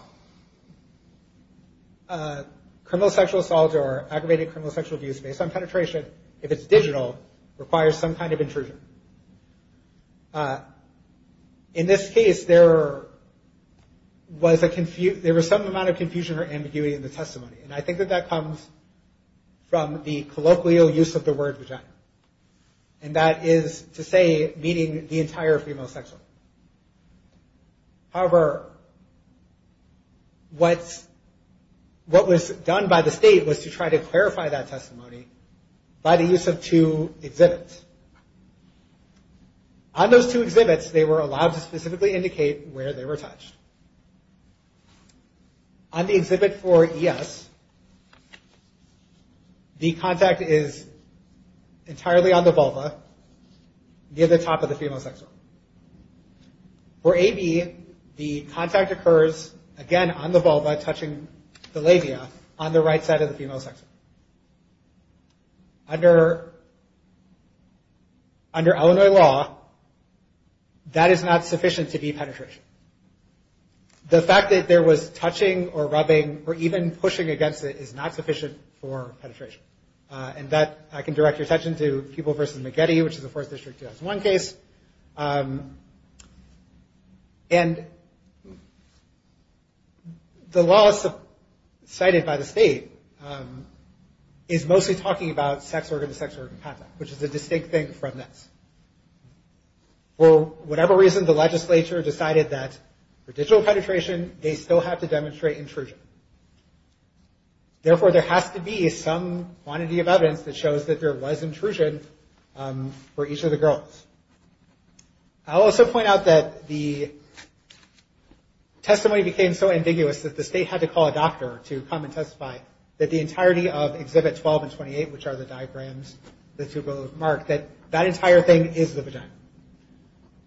criminal sexual assaults or aggravated criminal sexual abuse based on penetration, if it's digital, requires some kind of intrusion. In this case, there was some amount of confusion and ambiguity in the testimony. And I think that that comes from the colloquial use of the word vagina. And that is to say meeting the entire female sex life. However, what was done by the state was to try to clarify that testimony by the use of two exhibits. On those two exhibits, they were allowed to specifically indicate where they were touched. On the exhibit for E.S., the contact is entirely on the vulva, near the top of the female sex life. For A.B., the contact occurs, again, on the vulva, touching the labia, on the right side of the female sex life. However, under Illinois law, that is not sufficient to be penetration. The fact that there was touching or rubbing or even pushing against it is not sufficient for penetration. And that, I can direct your attention to Peeble v. McGeady, which is a 4th District CL1 case. And the law cited by the state is mostly talking about sex organ to sex organ contact, which is a distinct thing from this. For whatever reason, the legislature decided that for digital penetration, they still have to demonstrate intrusion. Therefore, there has to be some quantity of evidence that shows that there was intrusion for each of the girls. I'll also point out that the testimony became so ambiguous that the state had to call a doctor to come and testify that the entirety of Exhibits 12 and 28, which are the diagrams, the superlative marks, that that entire thing is the vagina.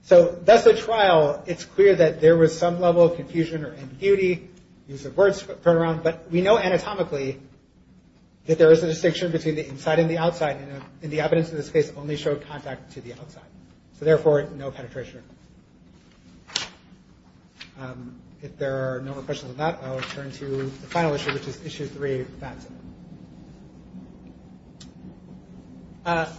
So, that's the trial. It's clear that there was some level of confusion or ambiguity, use of words thrown around. But we know anatomically that there is a distinction between the inside and the outside, and the evidence in this case only showed contact to the outside. Therefore, no penetration. If there are no more questions on that, I'll turn to the final issue, which is Issue 3, Batson.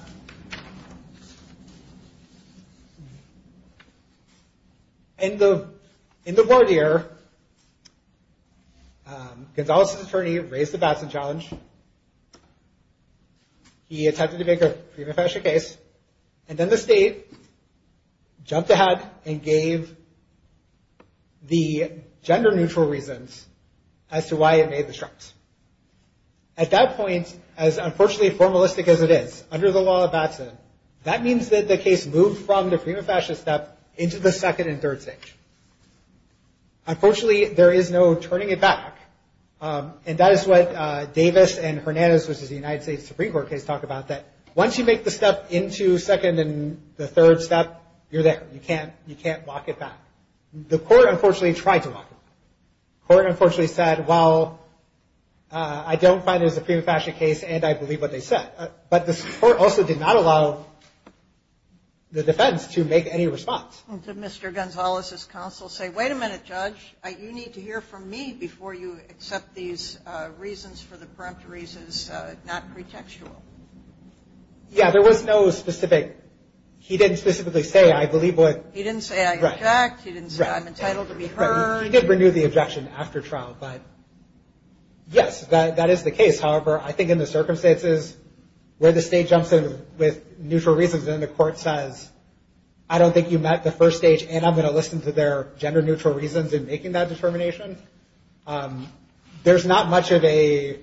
In the court here, Gonzales' attorney raised the Batson challenge. He attempted to make a prima facie case, and then the state jumped ahead and gave the gender-neutral reasons as to why it made the choice. At that point, as unfortunately formalistic as it is, under the law of Batson, that means that the case moved from the prima facie step into the second and third stage. Unfortunately, there is no turning it back, and that is what Davis and Hernandez, which is the United States Supreme Court case, talk about. That once you make the step into second and the third step, you're there. You can't walk it back. The court, unfortunately, tried to walk it back. The court, unfortunately, said, well, I don't find it a prima facie case, and I believe what they said. But the court also did not allow the defense to make any response. Did Mr. Gonzales' counsel say, wait a minute, Judge, you need to hear from me before you accept these reasons for the prompt reasons, not pretextual? Yeah, there was no specific. He didn't specifically say, I believe what... He didn't say, I object. He didn't say, I'm entitled to be heard. He did renew the objection after trial, but yes, that is the case. However, I think in the circumstances where the state jumps in with neutral reasons and the court says, I don't think you met the first stage, and I'm going to listen to their gender-neutral reasons in making that determination, there's not much of a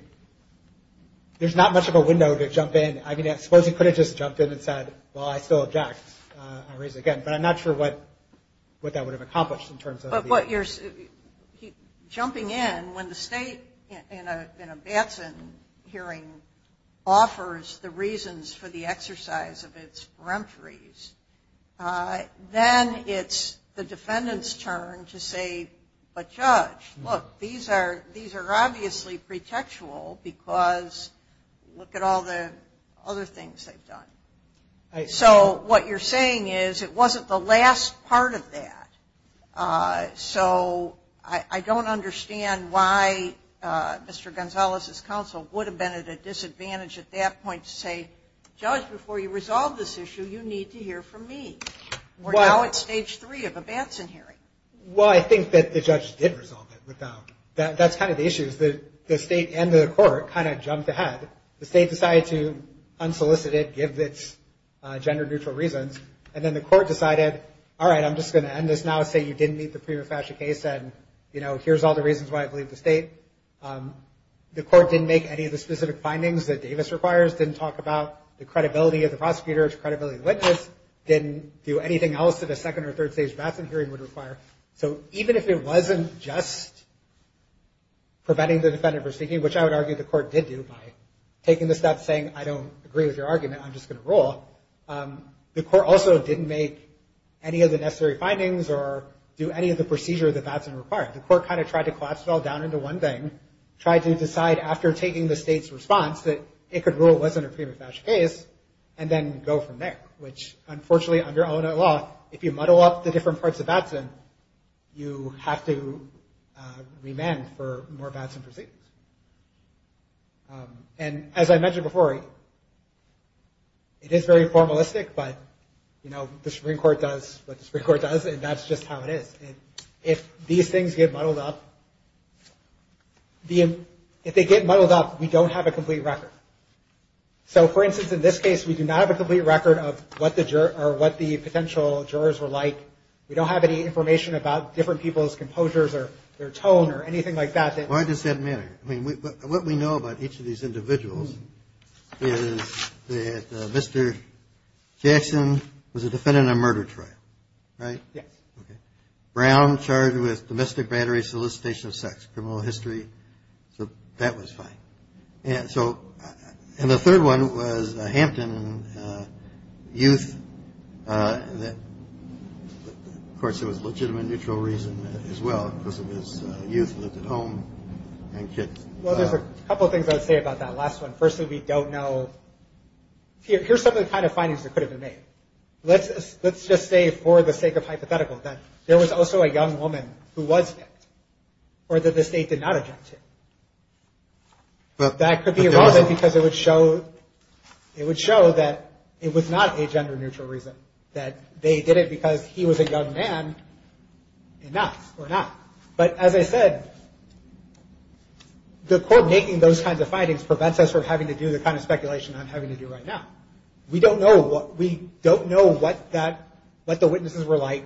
window to jump in. I mean, I suppose you could have just jumped in and said, well, I still object. But I'm not sure what that would have accomplished in terms of... Jumping in, when the state in a Batson hearing offers the reasons for the exercise of its prompt reasons, then it's the defendant's turn to say, but Judge, look, these are obviously pretextual because look at all the other things they've done. So what you're saying is, it wasn't the last part of that. So I don't understand why Mr. Gonzalez's counsel would have been at a disadvantage at that point to say, Judge, before you resolve this issue, you need to hear from me. We're now at stage three of a Batson hearing. Well, I think that the judge did resolve it. That's kind of the issue is that the state and the court kind of jumped ahead. The state decided to unsolicit it, give its gender-neutral reasons, and then the court decided, all right, I'm just going to end this now, say you didn't meet the prima facie case, and here's all the reasons why I believe the state. The court didn't make any of the specific findings that Davis requires, didn't talk about the credibility of the prosecutors, credibility of the witness, didn't do anything else that a second or third stage Batson hearing would require. So even if it wasn't just preventing the defendant from speaking, which I would argue the court did do by taking the step saying, I don't agree with your argument, I'm just going to rule, the court also didn't make any of the necessary findings or do any of the procedures that Batson required. The court kind of tried to collapse it all down into one thing, tried to decide after taking the state's response that it could rule it wasn't a prima facie case, and then go from there, which unfortunately under ONOA law, if you muddle up the different parts of Batson, you have to remand for more Batson proceedings. And as I mentioned before, it is very formalistic, but the Supreme Court does what the Supreme Court does, and that's just how it is. If these things get muddled up, if they get muddled up, we don't have a complete record. So for instance, in this case, we do not have a complete record of what the potential jurors were like. We don't have any information about different people's composures or their tone or anything like that. Why does that matter? What we know about each of these individuals is that Mr. Batson was a defendant of murder trial, right? Brown, charged with domestic battery, solicitation of sex, criminal history. So that was fine. Of course, there was legitimate neutral reason as well, because of his youth, lived at home, and kid. Well, there's a couple of things I would say about that last one. Firstly, we don't know. Here's some of the kind of findings that could have been made. Let's just say for the sake of hypotheticals, that there was also a young woman who was sick, or that the state did not attempt to. That could be irrelevant, because it would show that it was not a gender neutral reason. That they did it because he was a young man. Enough. But as I said, the court making those kinds of findings prevents us from having to do the kind of speculation I'm having to do right now. We don't know what the witnesses were like.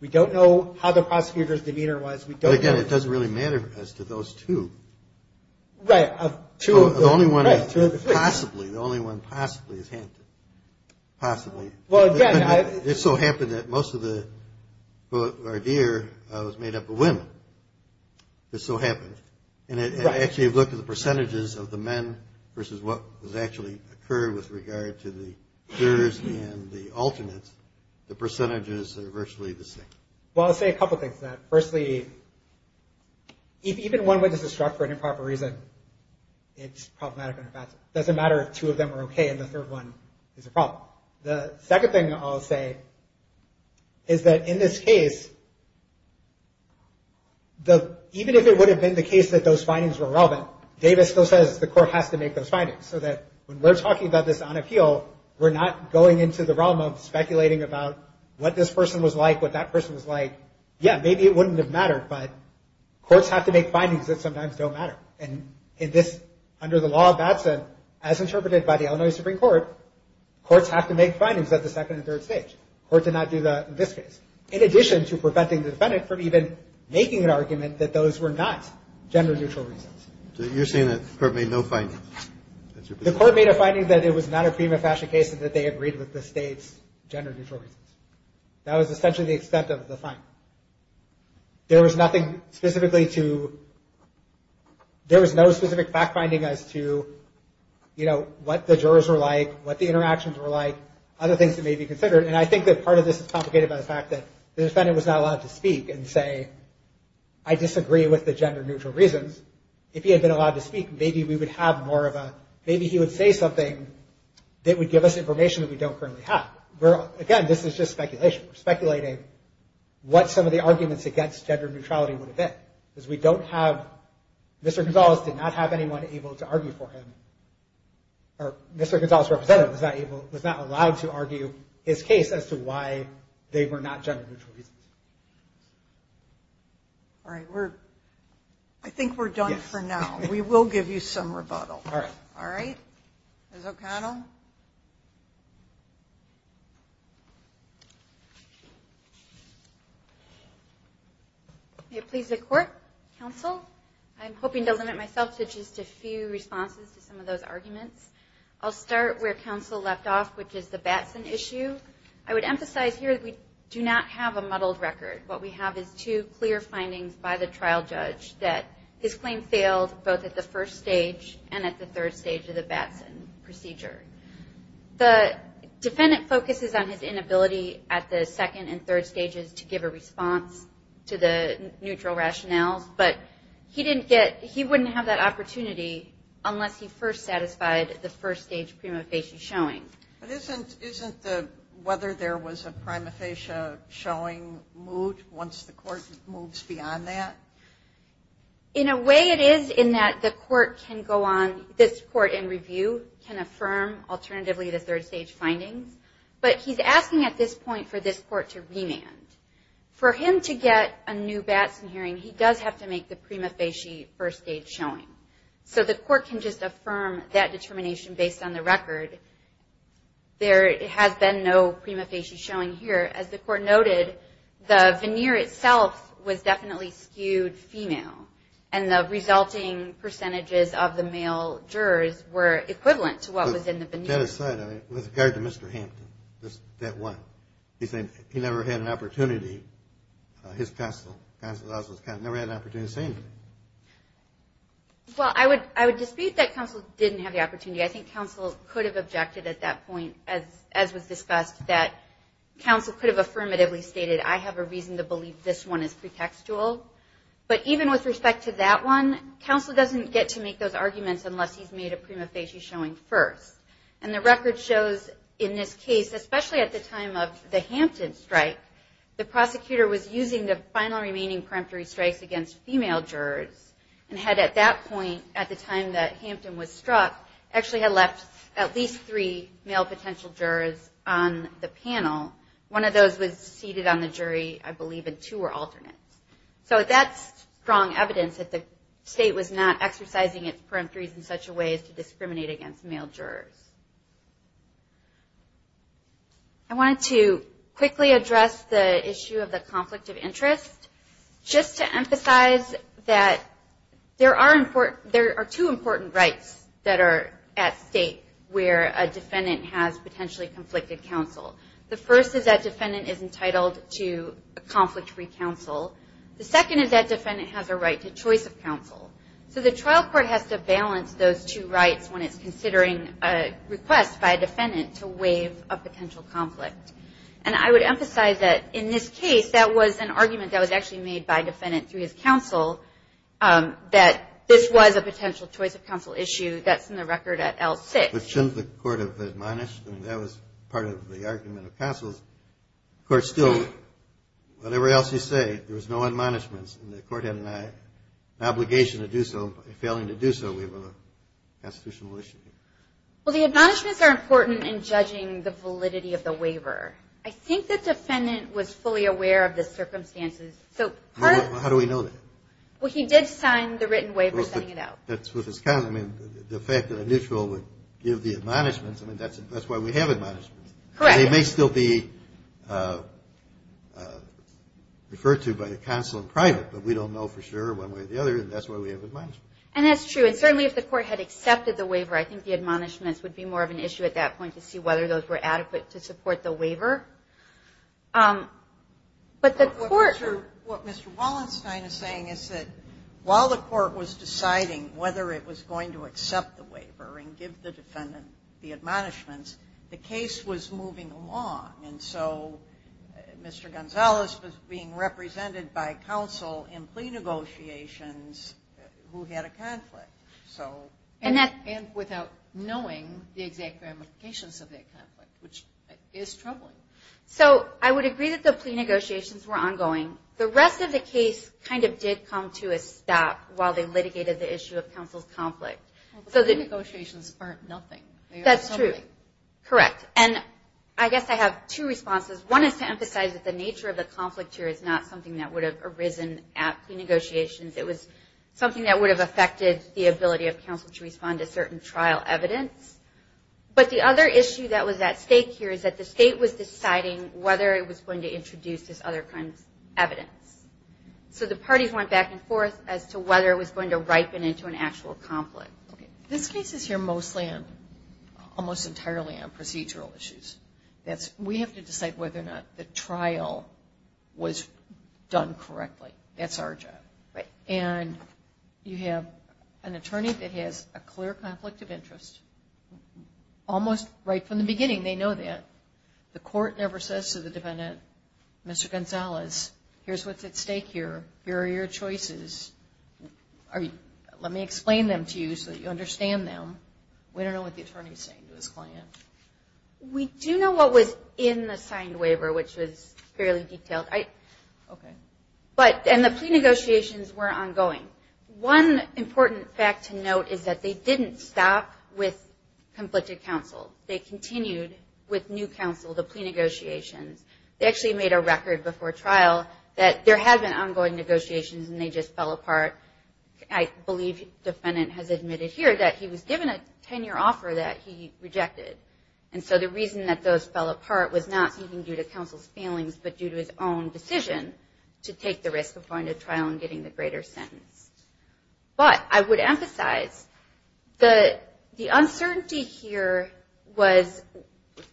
We don't know how the prosecutor's demeanor was. But again, it doesn't really matter as to those two. Right. Possibly. The only one possibly is Hampton. Possibly. It so happened that most of the court of the year was made up of women. It so happened. And if you look at the percentages of the men versus what actually occurred with regard to the jurors and the alternates, the percentages are virtually the same. Well, I'll say a couple things to that. Firstly, if even one witness is struck for an improper reason, it's problematic in effect. It doesn't matter if two of them are okay and the third one is a problem. The second thing I'll say is that in this case, even if it would have been the case that those findings were relevant, Davis still says the court has to make those findings. So that when we're talking about this on appeal, we're not going into the realm of speculating about what this person was like, what that person was like. Yeah, maybe it wouldn't have mattered, but courts have to make findings that sometimes don't matter. And in this, under the law of Babson, as interpreted by the Illinois Supreme Court, courts have to make findings that the second and third states. The court did not do that in this case. In addition to preventing the defendant from even making an argument that those were not gender neutral reasons. So you're saying that the court made no findings? The court made a finding that it was not a prima facie case and that they agreed with the state's gender neutrality. That was essentially the extent of the finding. There was nothing specifically to, there was no specific fact finding as to, you know, what the jurors were like, what the interactions were like, other things that may be considered. And I think that part of this is complicated by the fact that the defendant was not allowed to speak and say, I disagree with the gender neutral reasons. If he had been allowed to speak, maybe we would have more of a, maybe he would say something that would give us information that we don't currently have. Again, this is just speculation. We're speculating what some of the arguments against gender neutrality would have been. Because we don't have, Mr. Gonzalez did not have anyone able to argue for him, or Mr. Gonzalez representative was not allowed to argue his case as to why they were not gender neutral reasons. All right, we're, I think we're done for now. We will give you some rebuttal. All right. All right. Ms. O'Connell? May it please the court, counsel? I'm hoping to limit myself to just a few responses to some of those arguments. I'll start where counsel left off, which is the Batson issue. I would emphasize here that we do not have a muddled record. What we have is two clear findings by the trial judge that this claim failed both at the first stage and at the third stage of the Batson procedure. The defendant focuses on his inability at the second and third stages to give a response to the neutral rationale, but he didn't get, he wouldn't have that opportunity unless he first satisfied the first stage prima facie showing. But isn't the, whether there was a prima facie showing moot once the court moves beyond that? In a way it is in that the court can go on, this court in review can affirm alternatively the third stage finding, but he's asking at this point for this court to remand. For him to get a new Batson hearing, he does have to make the prima facie first stage showing. So the court can just affirm that determination based on the record. There had been no prima facie showing here. As the court noted, the veneer itself was definitely skewed female, and the resulting percentages of the male jurors were equivalent to what was in the veneer. With regard to Mr. Hampton, that one, he said he never had an opportunity, his counsel, counsel that was his counsel, never had an opportunity to see him. Well, I would dispute that counsel didn't have the opportunity. I think counsel could have objected at that point, as was discussed, that counsel could have affirmatively stated, I have a reason to believe this one is pretextual. But even with respect to that one, counsel doesn't get to make those arguments unless he's made a prima facie showing first. And the record shows in this case, especially at the time of the Hampton strike, the prosecutor was using the final remaining peremptory strikes against female jurors, and had at that point, at the time that Hampton was struck, actually had left at least three male potential jurors on the panel. One of those was seated on the jury, I believe, and two were alternate. So that's strong evidence that the state was not exercising its peremptories in such a way as to discriminate against male jurors. I wanted to quickly address the issue of the conflict of interest. Just to emphasize that there are two important rights that are at stake where a defendant has potentially conflicted counsel. The first is that defendant is entitled to a conflict-free counsel. The second is that defendant has a right to choice of counsel. So the trial court has to balance those two rights when it's considering a request by a defendant to waive a potential conflict. And I would emphasize that in this case, that was an argument that was actually made by defendant to his counsel that this was a potential choice of counsel issue. That's in the record at L6. But shouldn't the court have admonished? I mean, that was part of the argument of counsel. Of course, still, whatever else you say, there was no admonishments, and the court had an obligation to do so. By failing to do so, we have a constitutional issue. Well, the admonishments are important in judging the validity of the waiver. I think the defendant was fully aware of the circumstances. How do we know that? Well, he did sign the written waiver setting it out. The fact that a neutral would give the admonishments, that's why we have admonishments. Correct. They may still be referred to by the counsel in private, but we don't know for sure one way or the other, and that's why we have admonishments. And that's true. And certainly if the court had accepted the waiver, I think the admonishments would be more of an issue at that point to see whether those were adequate to support the waiver. What Mr. Wallenstein is saying is that while the court was deciding whether it was going to accept the waiver and give the defendant the admonishments, the case was moving along. And so Mr. Gonzalez was being represented by counsel in plea negotiations who had a conflict, and without knowing the exact ramifications of that conflict, which is troubling. So I would agree that the plea negotiations were ongoing. The rest of the case kind of did come to a stop while they litigated the issue of counsel's conflict. The negotiations aren't nothing. That's true. Correct. And I guess I have two responses. One is to emphasize that the nature of the conflict here is not something that would have arisen at plea negotiations. It was something that would have affected the ability of counsel to respond to certain trial evidence. But the other issue that was at stake here is that the state was deciding whether it was going to introduce this other kind of evidence. So the parties went back and forth as to whether it was going to ripen into an actual conflict. This case is here mostly and almost entirely on procedural issues. We have to decide whether or not the trial was done correctly. That's our job. And you have an attorney that has a clear conflict of interest. Almost right from the beginning they know that. The court never says to the defendant, Mr. Gonzalez, here's what's at stake here. Here are your choices. Let me explain them to you so that you understand them. We don't know what the attorney is saying to his client. We do know what was in the signed waiver, which is fairly detailed. Okay. And the plea negotiations were ongoing. One important fact to note is that they didn't stop with conflicted counsel. They continued with new counsel, the plea negotiations. They actually made a record before trial that there had been ongoing negotiations and they just fell apart. I believe the defendant has admitted here that he was given a 10-year offer that he rejected. And so the reason that those fell apart was not even due to counsel's failings but due to his own decision to take the risk of going to trial and getting the greater sentence. But I would emphasize that the uncertainty here was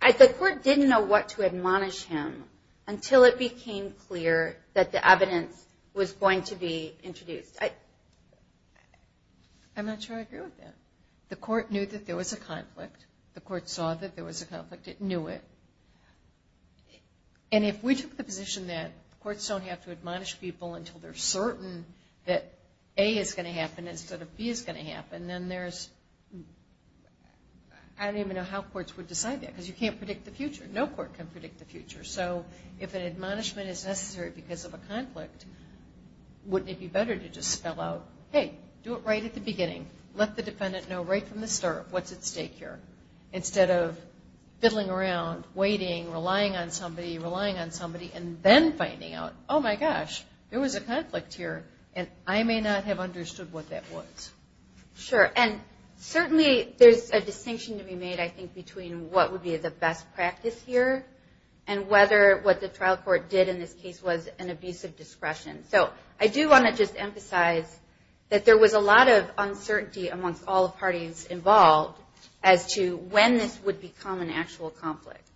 the court didn't know what to admonish him until it became clear that the evidence was going to be introduced. I'm not sure I agree with that. The court knew that there was a conflict. The court saw that there was a conflict. It knew it. And if we took the position that courts don't have to admonish people until they're certain that A is going to happen instead of B is going to happen, then there's – I don't even know how courts would decide that because you can't predict the future. No court can predict the future. So if an admonishment is necessary because of a conflict, wouldn't it be better to just spell out, hey, do it right at the beginning. Let the defendant know right from the start what's at stake here instead of fiddling around, waiting, relying on somebody, relying on somebody, and then finding out, oh my gosh, there was a conflict here and I may not have understood what that was. Sure. And certainly there's a distinction to be made, I think, between what would be the best practice here and whether what the trial court did in this case was an abuse of discretion. So I do want to just emphasize that there was a lot of uncertainty amongst all parties involved as to when this would become an actual conflict.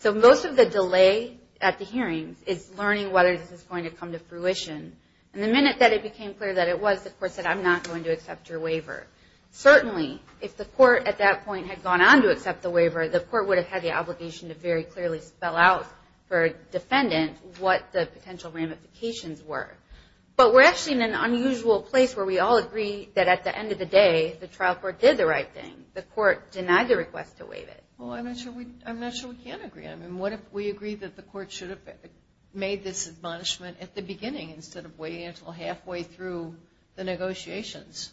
So most of the delay at the hearing is learning whether this was going to come to fruition. And the minute that it became clear that it was, the court said, I'm not going to accept your waiver. Certainly, if the court at that point had gone on to accept the waiver, the court would have had the obligation to very clearly spell out for a defendant what the potential ramifications were. But we're actually in an unusual place where we all agree that at the end of the day, the trial court did the right thing. The court denied the request to waive it. Well, I'm not sure we can agree on that. And what if we agree that the court should have made this admonishment at the beginning instead of waiting until halfway through the negotiations?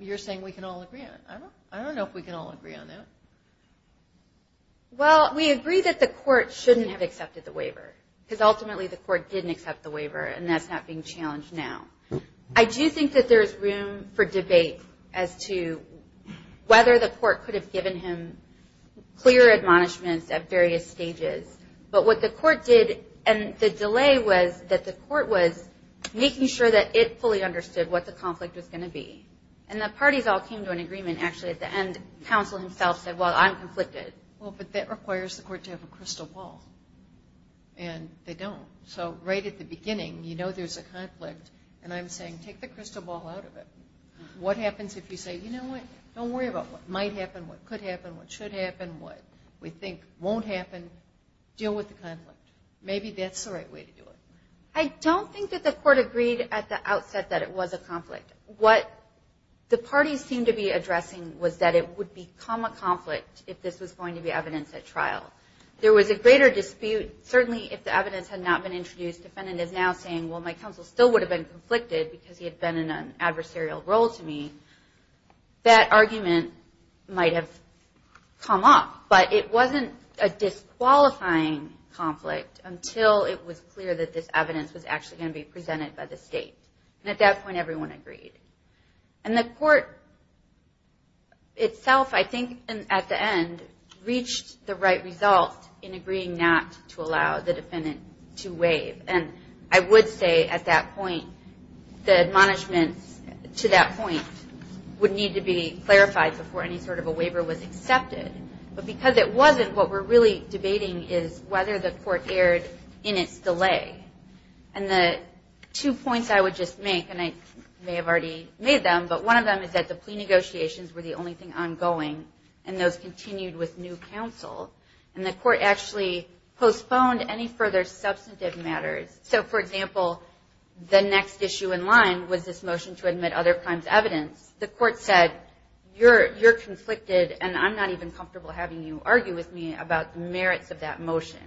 You're saying we can all agree on that. I don't know if we can all agree on that. Well, we agree that the court shouldn't have accepted the waiver because ultimately the court didn't accept the waiver, and that's not being challenged now. I do think that there is room for debate as to whether the court could have given him clear admonishments at various stages. But what the court did, and the delay was that the court was making sure that it fully understood what the conflict was going to be. And the parties all came to an agreement, actually. At the end, counsel himself said, well, I'm conflicted. Well, but that requires the court to have a crystal ball, and they don't. So right at the beginning, you know there's a conflict, and I'm saying take the crystal ball out of it. What happens if you say, you know what, don't worry about what might happen, what could happen, what should happen, what we think won't happen. Deal with the conflict. Maybe that's the right way to do it. I don't think that the court agreed at the outset that it was a conflict. What the parties seemed to be addressing was that it would become a conflict if this was going to be evidenced at trial. There was a greater dispute, certainly if the evidence had not been introduced. The defendant is now saying, well, my counsel still would have been conflicted because he had been in an adversarial role to me. That argument might have come up, but it wasn't a disqualifying conflict until it was clear that this evidence was actually going to be presented by the state. And at that point, everyone agreed. And the court itself, I think, at the end, reached the right result in agreeing not to allow the defendant to waive. And I would say at that point, the admonishment to that point would need to be clarified before any sort of a waiver was accepted. But because it wasn't, what we're really debating is whether the court erred in its delay. And the two points I would just make, and I may have already made them, but one of them is that the pre-negotiations were the only thing ongoing and those continued with new counsel. And the court actually postponed any further substantive matters. So, for example, the next issue in line was this motion to admit other crimes evidence. The court said, you're conflicted and I'm not even comfortable having you argue with me about the merits of that motion.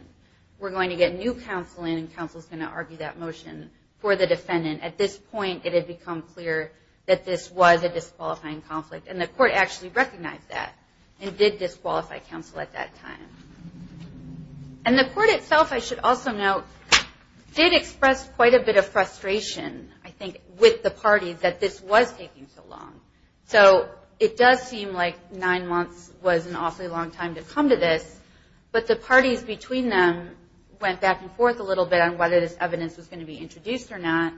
We're going to get new counsel in and counsel's going to argue that motion for the defendant. At this point, it had become clear that this was a disqualifying conflict. And the court actually recognized that and did disqualify counsel at that time. And the court itself, I should also note, did express quite a bit of frustration, I think, with the parties that this was taking so long. So, it does seem like nine months was an awfully long time to come to this. But the parties between them went back and forth a little bit on whether this evidence was going to be introduced or not.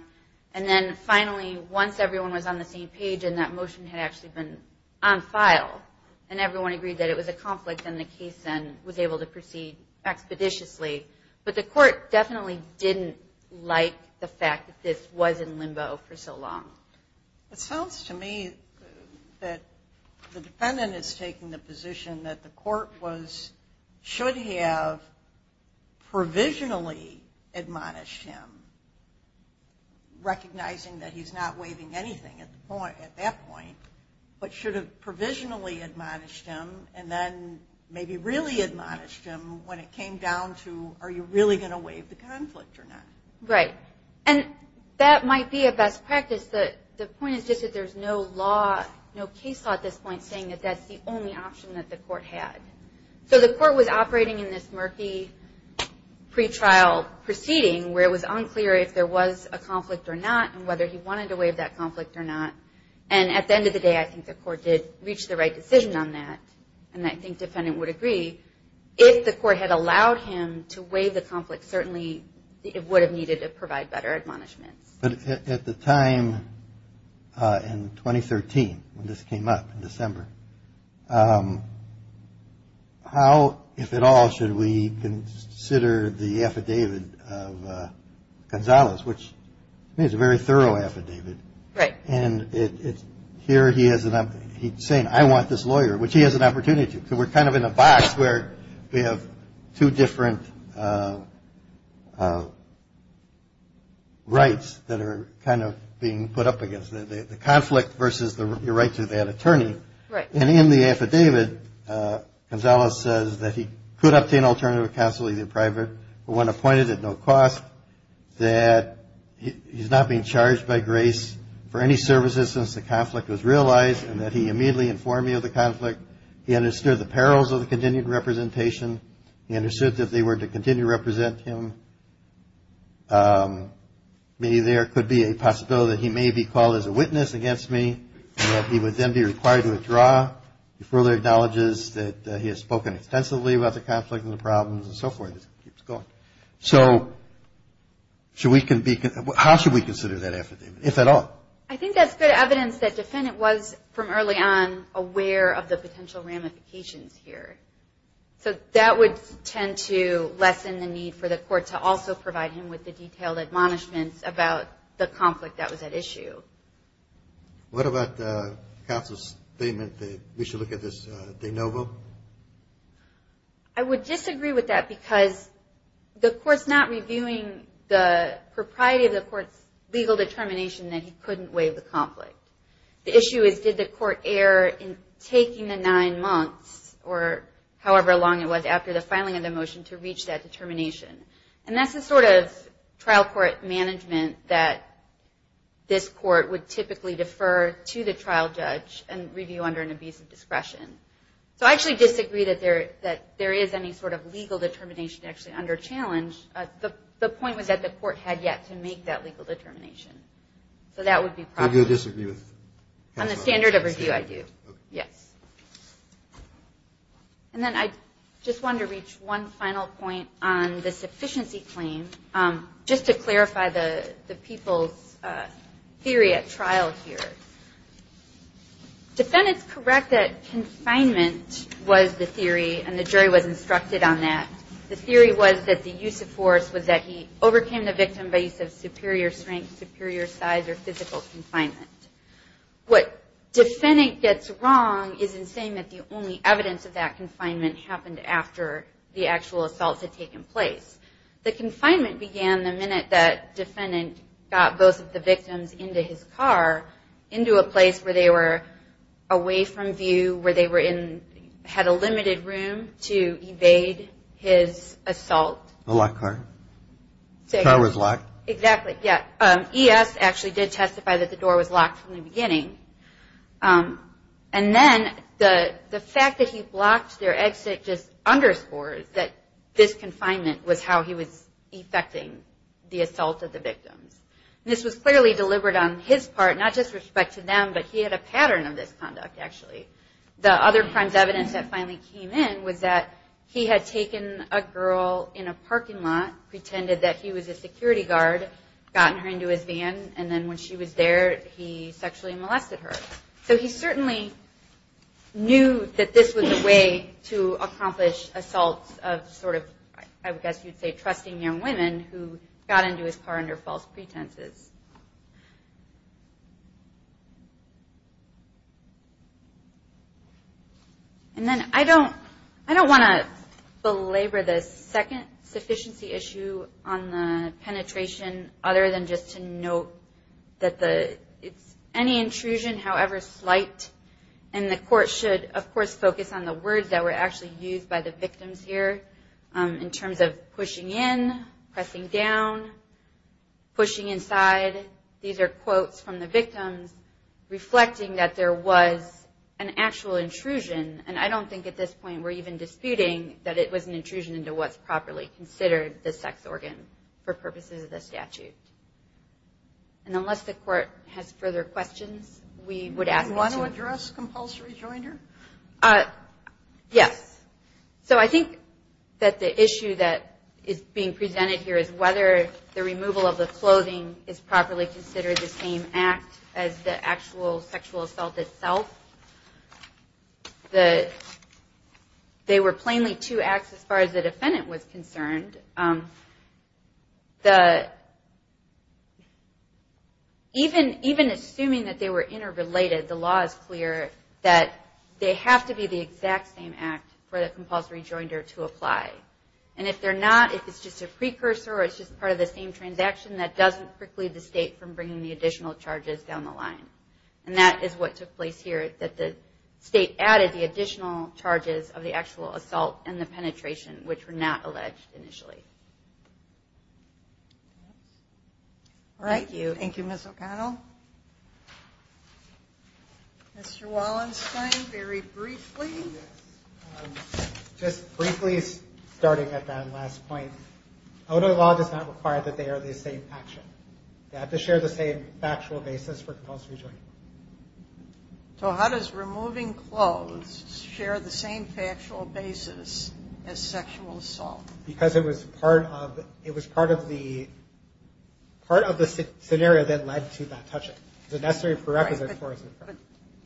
And then finally, once everyone was on the same page and that motion had actually been on file and everyone agreed that it was a conflict and the case then was able to proceed expeditiously. But the court definitely didn't like the fact that this was in limbo for so long. It sounds to me that the defendant is taking the position that the court should have provisionally admonished him, recognizing that he's not waiving anything at that point, but should have provisionally admonished him and then maybe really admonished him when it came down to are you really going to waive the conflict or not. Right. And that might be a best practice, but the point is just that there's no law, no case law at this point, saying that that's the only option that the court had. So, the court was operating in this murky pretrial proceeding where it was unclear if there was a conflict or not and whether he wanted to waive that conflict or not. And at the end of the day, I think the court did reach the right decision on that and I think the defendant would agree. If the court had allowed him to waive the conflict, certainly it would have needed to provide better admonishment. At the time in 2013, when this came up in December, how, if at all, should we consider the affidavit of Gonzales, which is a very thorough affidavit. Right. And here he is saying, I want this lawyer, which he has an opportunity to. So, we're kind of in a box where we have two different rights that are kind of being put up against us. The conflict versus the right to that attorney. Right. And in the affidavit, Gonzales says that he could obtain alternative counsel, either private or when appointed at no cost, that he's not being charged by grace for any services since the conflict was realized and that he immediately informed me of the conflict. He understood the perils of the continued representation. He understood that if they were to continue to represent him, there could be a possibility that he may be called as a witness against me and that he would then be required to withdraw. He further acknowledges that he has spoken extensively about the conflict and the problems and so forth. So, how should we consider that affidavit, if at all? I think that's good evidence that the defendant was, from early on, aware of the potential ramifications here. So, that would tend to lessen the need for the court to also provide him with the detailed admonishments about the conflict that was at issue. What about the counsel's statement that we should look at this de novo? I would disagree with that because the court's not reviewing the propriety of the court's legal determination that he couldn't waive the conflict. The issue is, did the court err in taking the nine months, or however long it was after the filing of the motion, to reach that determination? And that's the sort of trial court management that this court would typically defer to the trial judge and review under an abuse of discretion. So, I actually disagree that there is any sort of legal determination actually under challenge. The point was that the court had yet to make that legal determination. So, that would be probably... How do you disagree with that? On the standard of review, I do. Okay. Yes. And then, I just wanted to reach one final point on the sufficiency claim, just to clarify the people's theory at trial here. Defendants correct that consignment was the theory, and the jury was instructed on that. The theory was that the use of force was that he overcame the victim by use of superior strength, superior size, or physical consignment. What defendant gets wrong is in saying that the only evidence of that consignment happened after the actual assault had taken place. The consignment began the minute that defendant got both of the victims into his car, into a place where they were away from view, where they had a limited room to evade his assault. The locked car? The car was locked? Exactly. Yes. EF actually did testify that the door was locked from the beginning. And then, the fact that he blocked their exit just underscores that this consignment was how he was effecting the assault of the victim. This was clearly delivered on his part, not just respect to them, but he had a pattern of this conduct, actually. The other kind of evidence that finally came in was that he had taken a girl in a parking lot, pretended that he was a security guard, gotten her into his van, and then when she was there, he sexually molested her. So he certainly knew that this was a way to accomplish assaults of sort of, I would guess you'd say, trusting young women who got into his car under false pretenses. And then, I don't want to belabor the second sufficiency issue on the penetration, other than just to note that any intrusion, however slight, and the court should, of course, focus on the words that were actually used by the victims here in terms of pushing in, pressing down, pushing inside. These are quotes from the victims reflecting that there was an actual intrusion, and I don't think at this point we're even disputing that it was an intrusion into what's properly considered the sex organ for purposes of the statute. And unless the court has further questions, we would add one. Do you want to address compulsory joinder? Yes. So I think that the issue that is being presented here is whether the removal of the clothing is properly considered the same act as the actual sexual assault itself. They were plainly two acts as far as the defendant was concerned. Even assuming that they were interrelated, the law is clear that they have to be the exact same act for the compulsory joinder to apply. And if they're not, if it's just a precursor or it's just part of the same transaction, that doesn't preclude the state from bringing the additional charges down the line. And that is what took place here, is that the state added the additional charges of the actual assault and the penetration, which were not alleged initially. All right. Thank you. Thank you, Ms. O'Connell. Mr. Wallenstein, very briefly. Just briefly, starting at that last point. Outer law does not require that they are the same actual. They have to share the same factual basis for compulsory joinder. So how does removing clothes share the same factual basis as sexual assault? Because it was part of the scenario that led to that touching. The necessary prerequisite for it.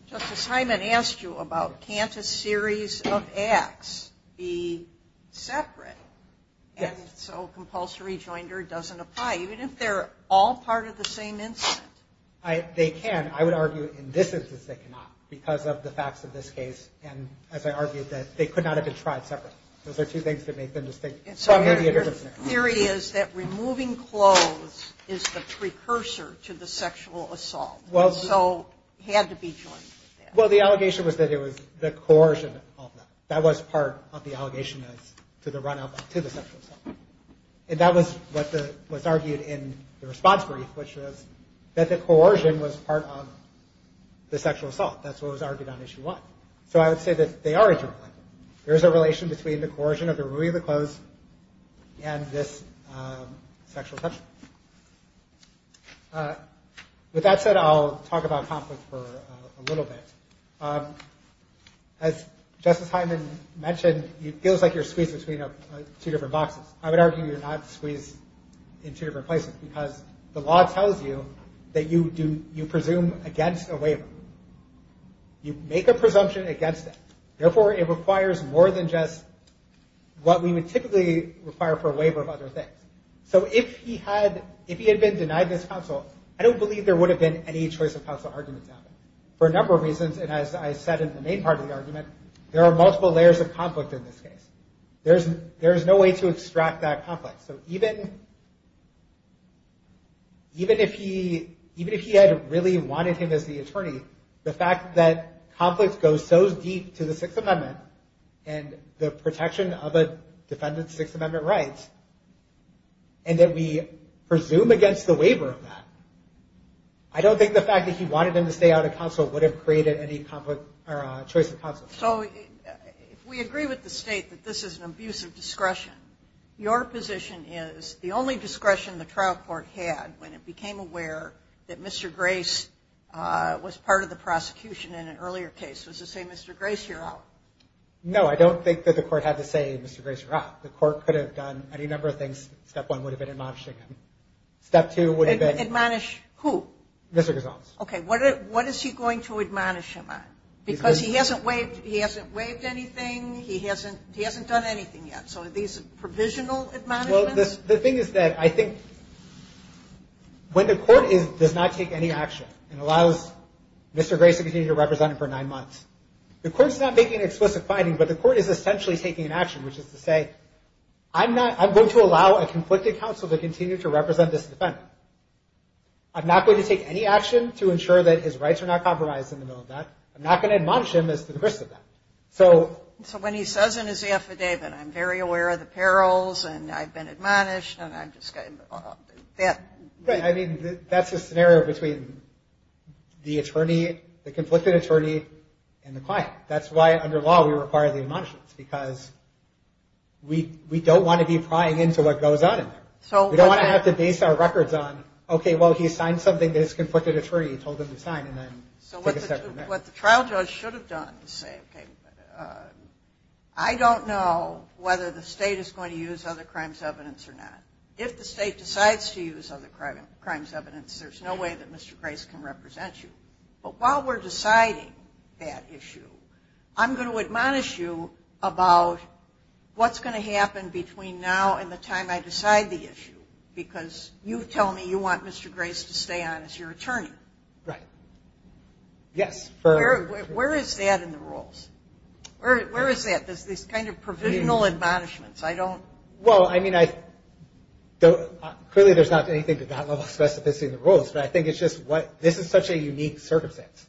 Justice Hyman asked you about can't a series of acts be separate? Yes. So compulsory joinder doesn't apply, even if they're all part of the same incident. They can. I would argue in this instance they cannot because of the facts of this case. And as I argued, they could not have been tried separately. Those are two things that may have been distinct. Some may be a different thing. The theory is that removing clothes is the precursor to the sexual assault. So there had to be choices. Well, the allegation was that it was the coercion that caused that. That was part of the allegation to the run-up to the sexual assault. And that was what's argued in the response brief, which is that the coercion was part of the sexual assault. That's what was argued on Issue 1. So I would say that they are interrelated. There is a relation between the coercion of the removing of the clothes and this sexual assault. With that said, I'll talk about conflict for a little bit. As Justice Hyman mentioned, it feels like you're squeezed between two different boxes. I would argue you're not squeezed in two different places because the law tells you that you presume against a waiver. You make a presumption against it. Therefore, it requires more than just what we would typically require for a waiver of other things. So if he had been denied this counsel, I don't believe there would have been any choice of counsel argument now. For a number of reasons, and as I said in the main part of the argument, there are multiple layers of conflict in this case. There is no way to extract that conflict. So even if he had really wanted him as the attorney, the fact that conflict goes so deep to the Sixth Amendment and the protection of a defendant's Sixth Amendment rights, and that we presume against the waiver of that, I don't think the fact that he wanted him to stay out of counsel would have created any choice of counsel. So if we agree with the State that this is an abuse of discretion, your position is the only discretion the trial court had when it became aware that Mr. Grace was part of the prosecution in an earlier case. Was it to say, Mr. Grace, you're out? No, I don't think that the court had to say, Mr. Grace, you're out. The court could have done any number of things. Step one would have been admonishing him. Step two would have been... Admonish who? Mr. Gozals. Okay. What is he going to admonish him on? Because he hasn't waived anything. He hasn't done anything yet. So are these provisional admonishments? Well, the thing is that I think when the court does not take any action and allows Mr. Grace to continue to represent him for nine months, the court is not making an explicit finding, but the court is essentially taking an action, which is to say, I'm going to allow a conflicted counsel to continue to represent this defendant. I'm not going to take any action to ensure that his rights are not compromised in the middle of that. I'm not going to admonish him as to the risk of that. So when he says in his AFJ that I'm very aware of the perils and I've been admonished and I'm just going to... Right. I mean, that's the scenario between the attorney, the conflicted attorney, and the client. That's why under law we require the admonishments, because we don't want to be plying into what goes on in there. We don't want to have to date our records on, okay, well he signed something that his conflicted attorney told him to sign and then took a step in there. So what the trial judge should have done is say, okay, I don't know whether the state is going to use other crimes evidence or not. If the state decides to use other crimes evidence, there's no way that Mr. Grace can represent you. But while we're deciding that issue, I'm going to admonish you about what's going to happen between now and the time I decide the issue, because you tell me you want Mr. Grace to stay on as your attorney. Right. Yes. Where is that in the rules? Where is that, this kind of provisional admonishments? Well, I mean, clearly there's not anything to that level of specificity in the rules, but I think it's just this is such a unique circumstance,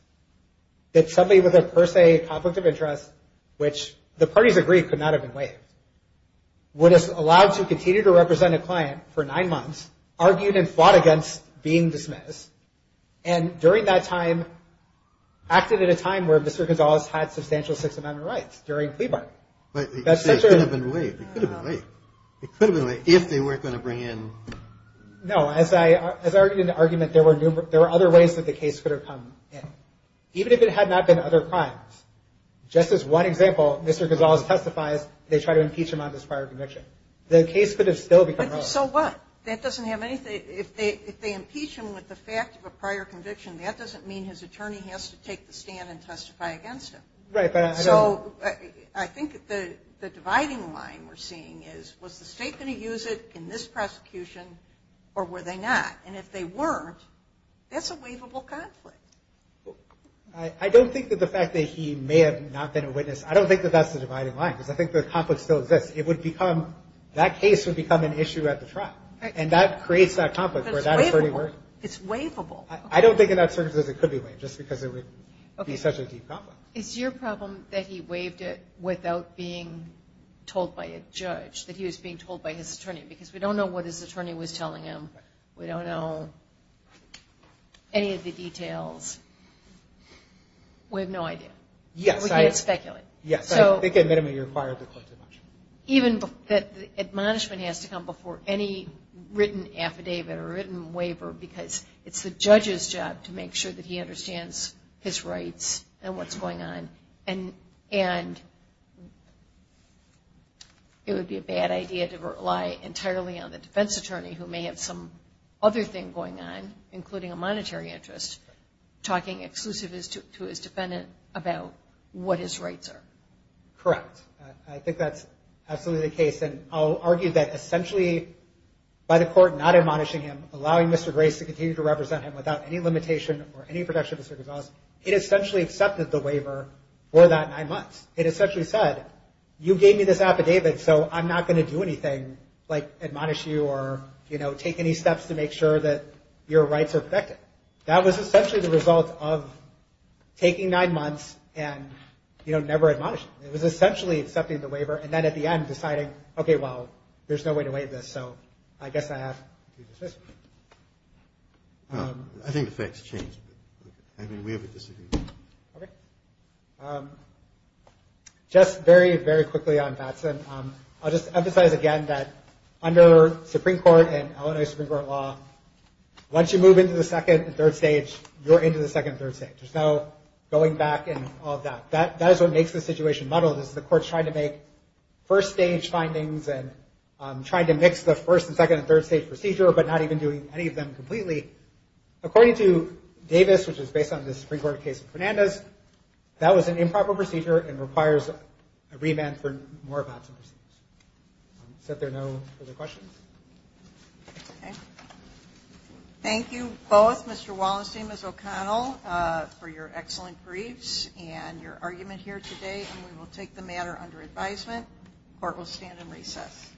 that somebody with a per se conflict of interest, which the parties agreed could not have been placed, would have allowed to continue to represent a client for nine months, argued and fought against being dismissed, and during that time, acted at a time where Mr. Gonzalez had substantial systematic rights, during plea bargaining. But it could have been waived. It could have been waived. It could have been waived if they weren't going to bring in. No, as I argued in the argument, there were other ways that the case could have come in. Even if it had not been other crimes. Just as one example, Mr. Gonzalez testified, they tried to impeach him on this prior conviction. The case could have still become relevant. So what? That doesn't have anything. If they impeach him with the fact of a prior conviction, that doesn't mean his attorney has to take the stand and testify against him. Right. So I think the dividing line we're seeing is, was the state going to use it in this prosecution, or were they not? And if they weren't, that's a waivable conflict. I don't think that the fact that he may have not been a witness, I don't think that that's the dividing line. I think the conflict still exists. It would become, that case would become an issue at the trial. And that creates that conflict. But it's waivable. It's waivable. I don't think in that circumstance it could be waived, just because there would be such a deep conflict. Okay. It's your problem that he waived it without being told by a judge, that he was being told by his attorney, because we don't know what his attorney was telling him. We don't know any of the details. We have no idea. Yes. We can't speculate. Yes. I think it minimally requires a plaintiff. Even the admonishment has to come before any written affidavit or written waiver, because it's the judge's job to make sure that he understands his rights and what's going on. And it would be a bad idea to rely entirely on a defense attorney who may have some other thing going on, including a monetary interest, talking exclusively to his defendant about what his rights are. Correct. I think that's absolutely the case. And I'll argue that essentially by the court not admonishing him, allowing Mr. Grace to continue to represent him without any limitation or any protection of his civil rights, it essentially accepted the waiver for that nine months. It essentially said, you gave me this affidavit so I'm not going to do anything like admonish you or take any steps to make sure that your rights are protected. That was essentially the result of taking nine months and never admonishing him. It was essentially accepting the waiver and then at the end deciding, okay, well, there's no way to waive this, so I guess I have to do this. I think the facts changed. I mean, we have a disagreement. Okay. Just very, very quickly on Batson, I'll just emphasize again that under Supreme Court and Illinois Supreme Court law, once you move into the second and third stage, you're into the second and third stage. There's no going back and all of that. That is what makes the situation muddled. The court tried to make first stage findings and tried to mix the first and second and third stage procedure but not even doing any of them completely. According to Davis, which is based on the Supreme Court case of Fernandez, that was an improper procedure and requires a remand for more than that. Is there no other questions? Okay. Thank you both, Mr. Wallenstein and Ms. O'Connell, for your excellent briefs and your argument here today. We will take the matter under advisement. Court will stand in recess.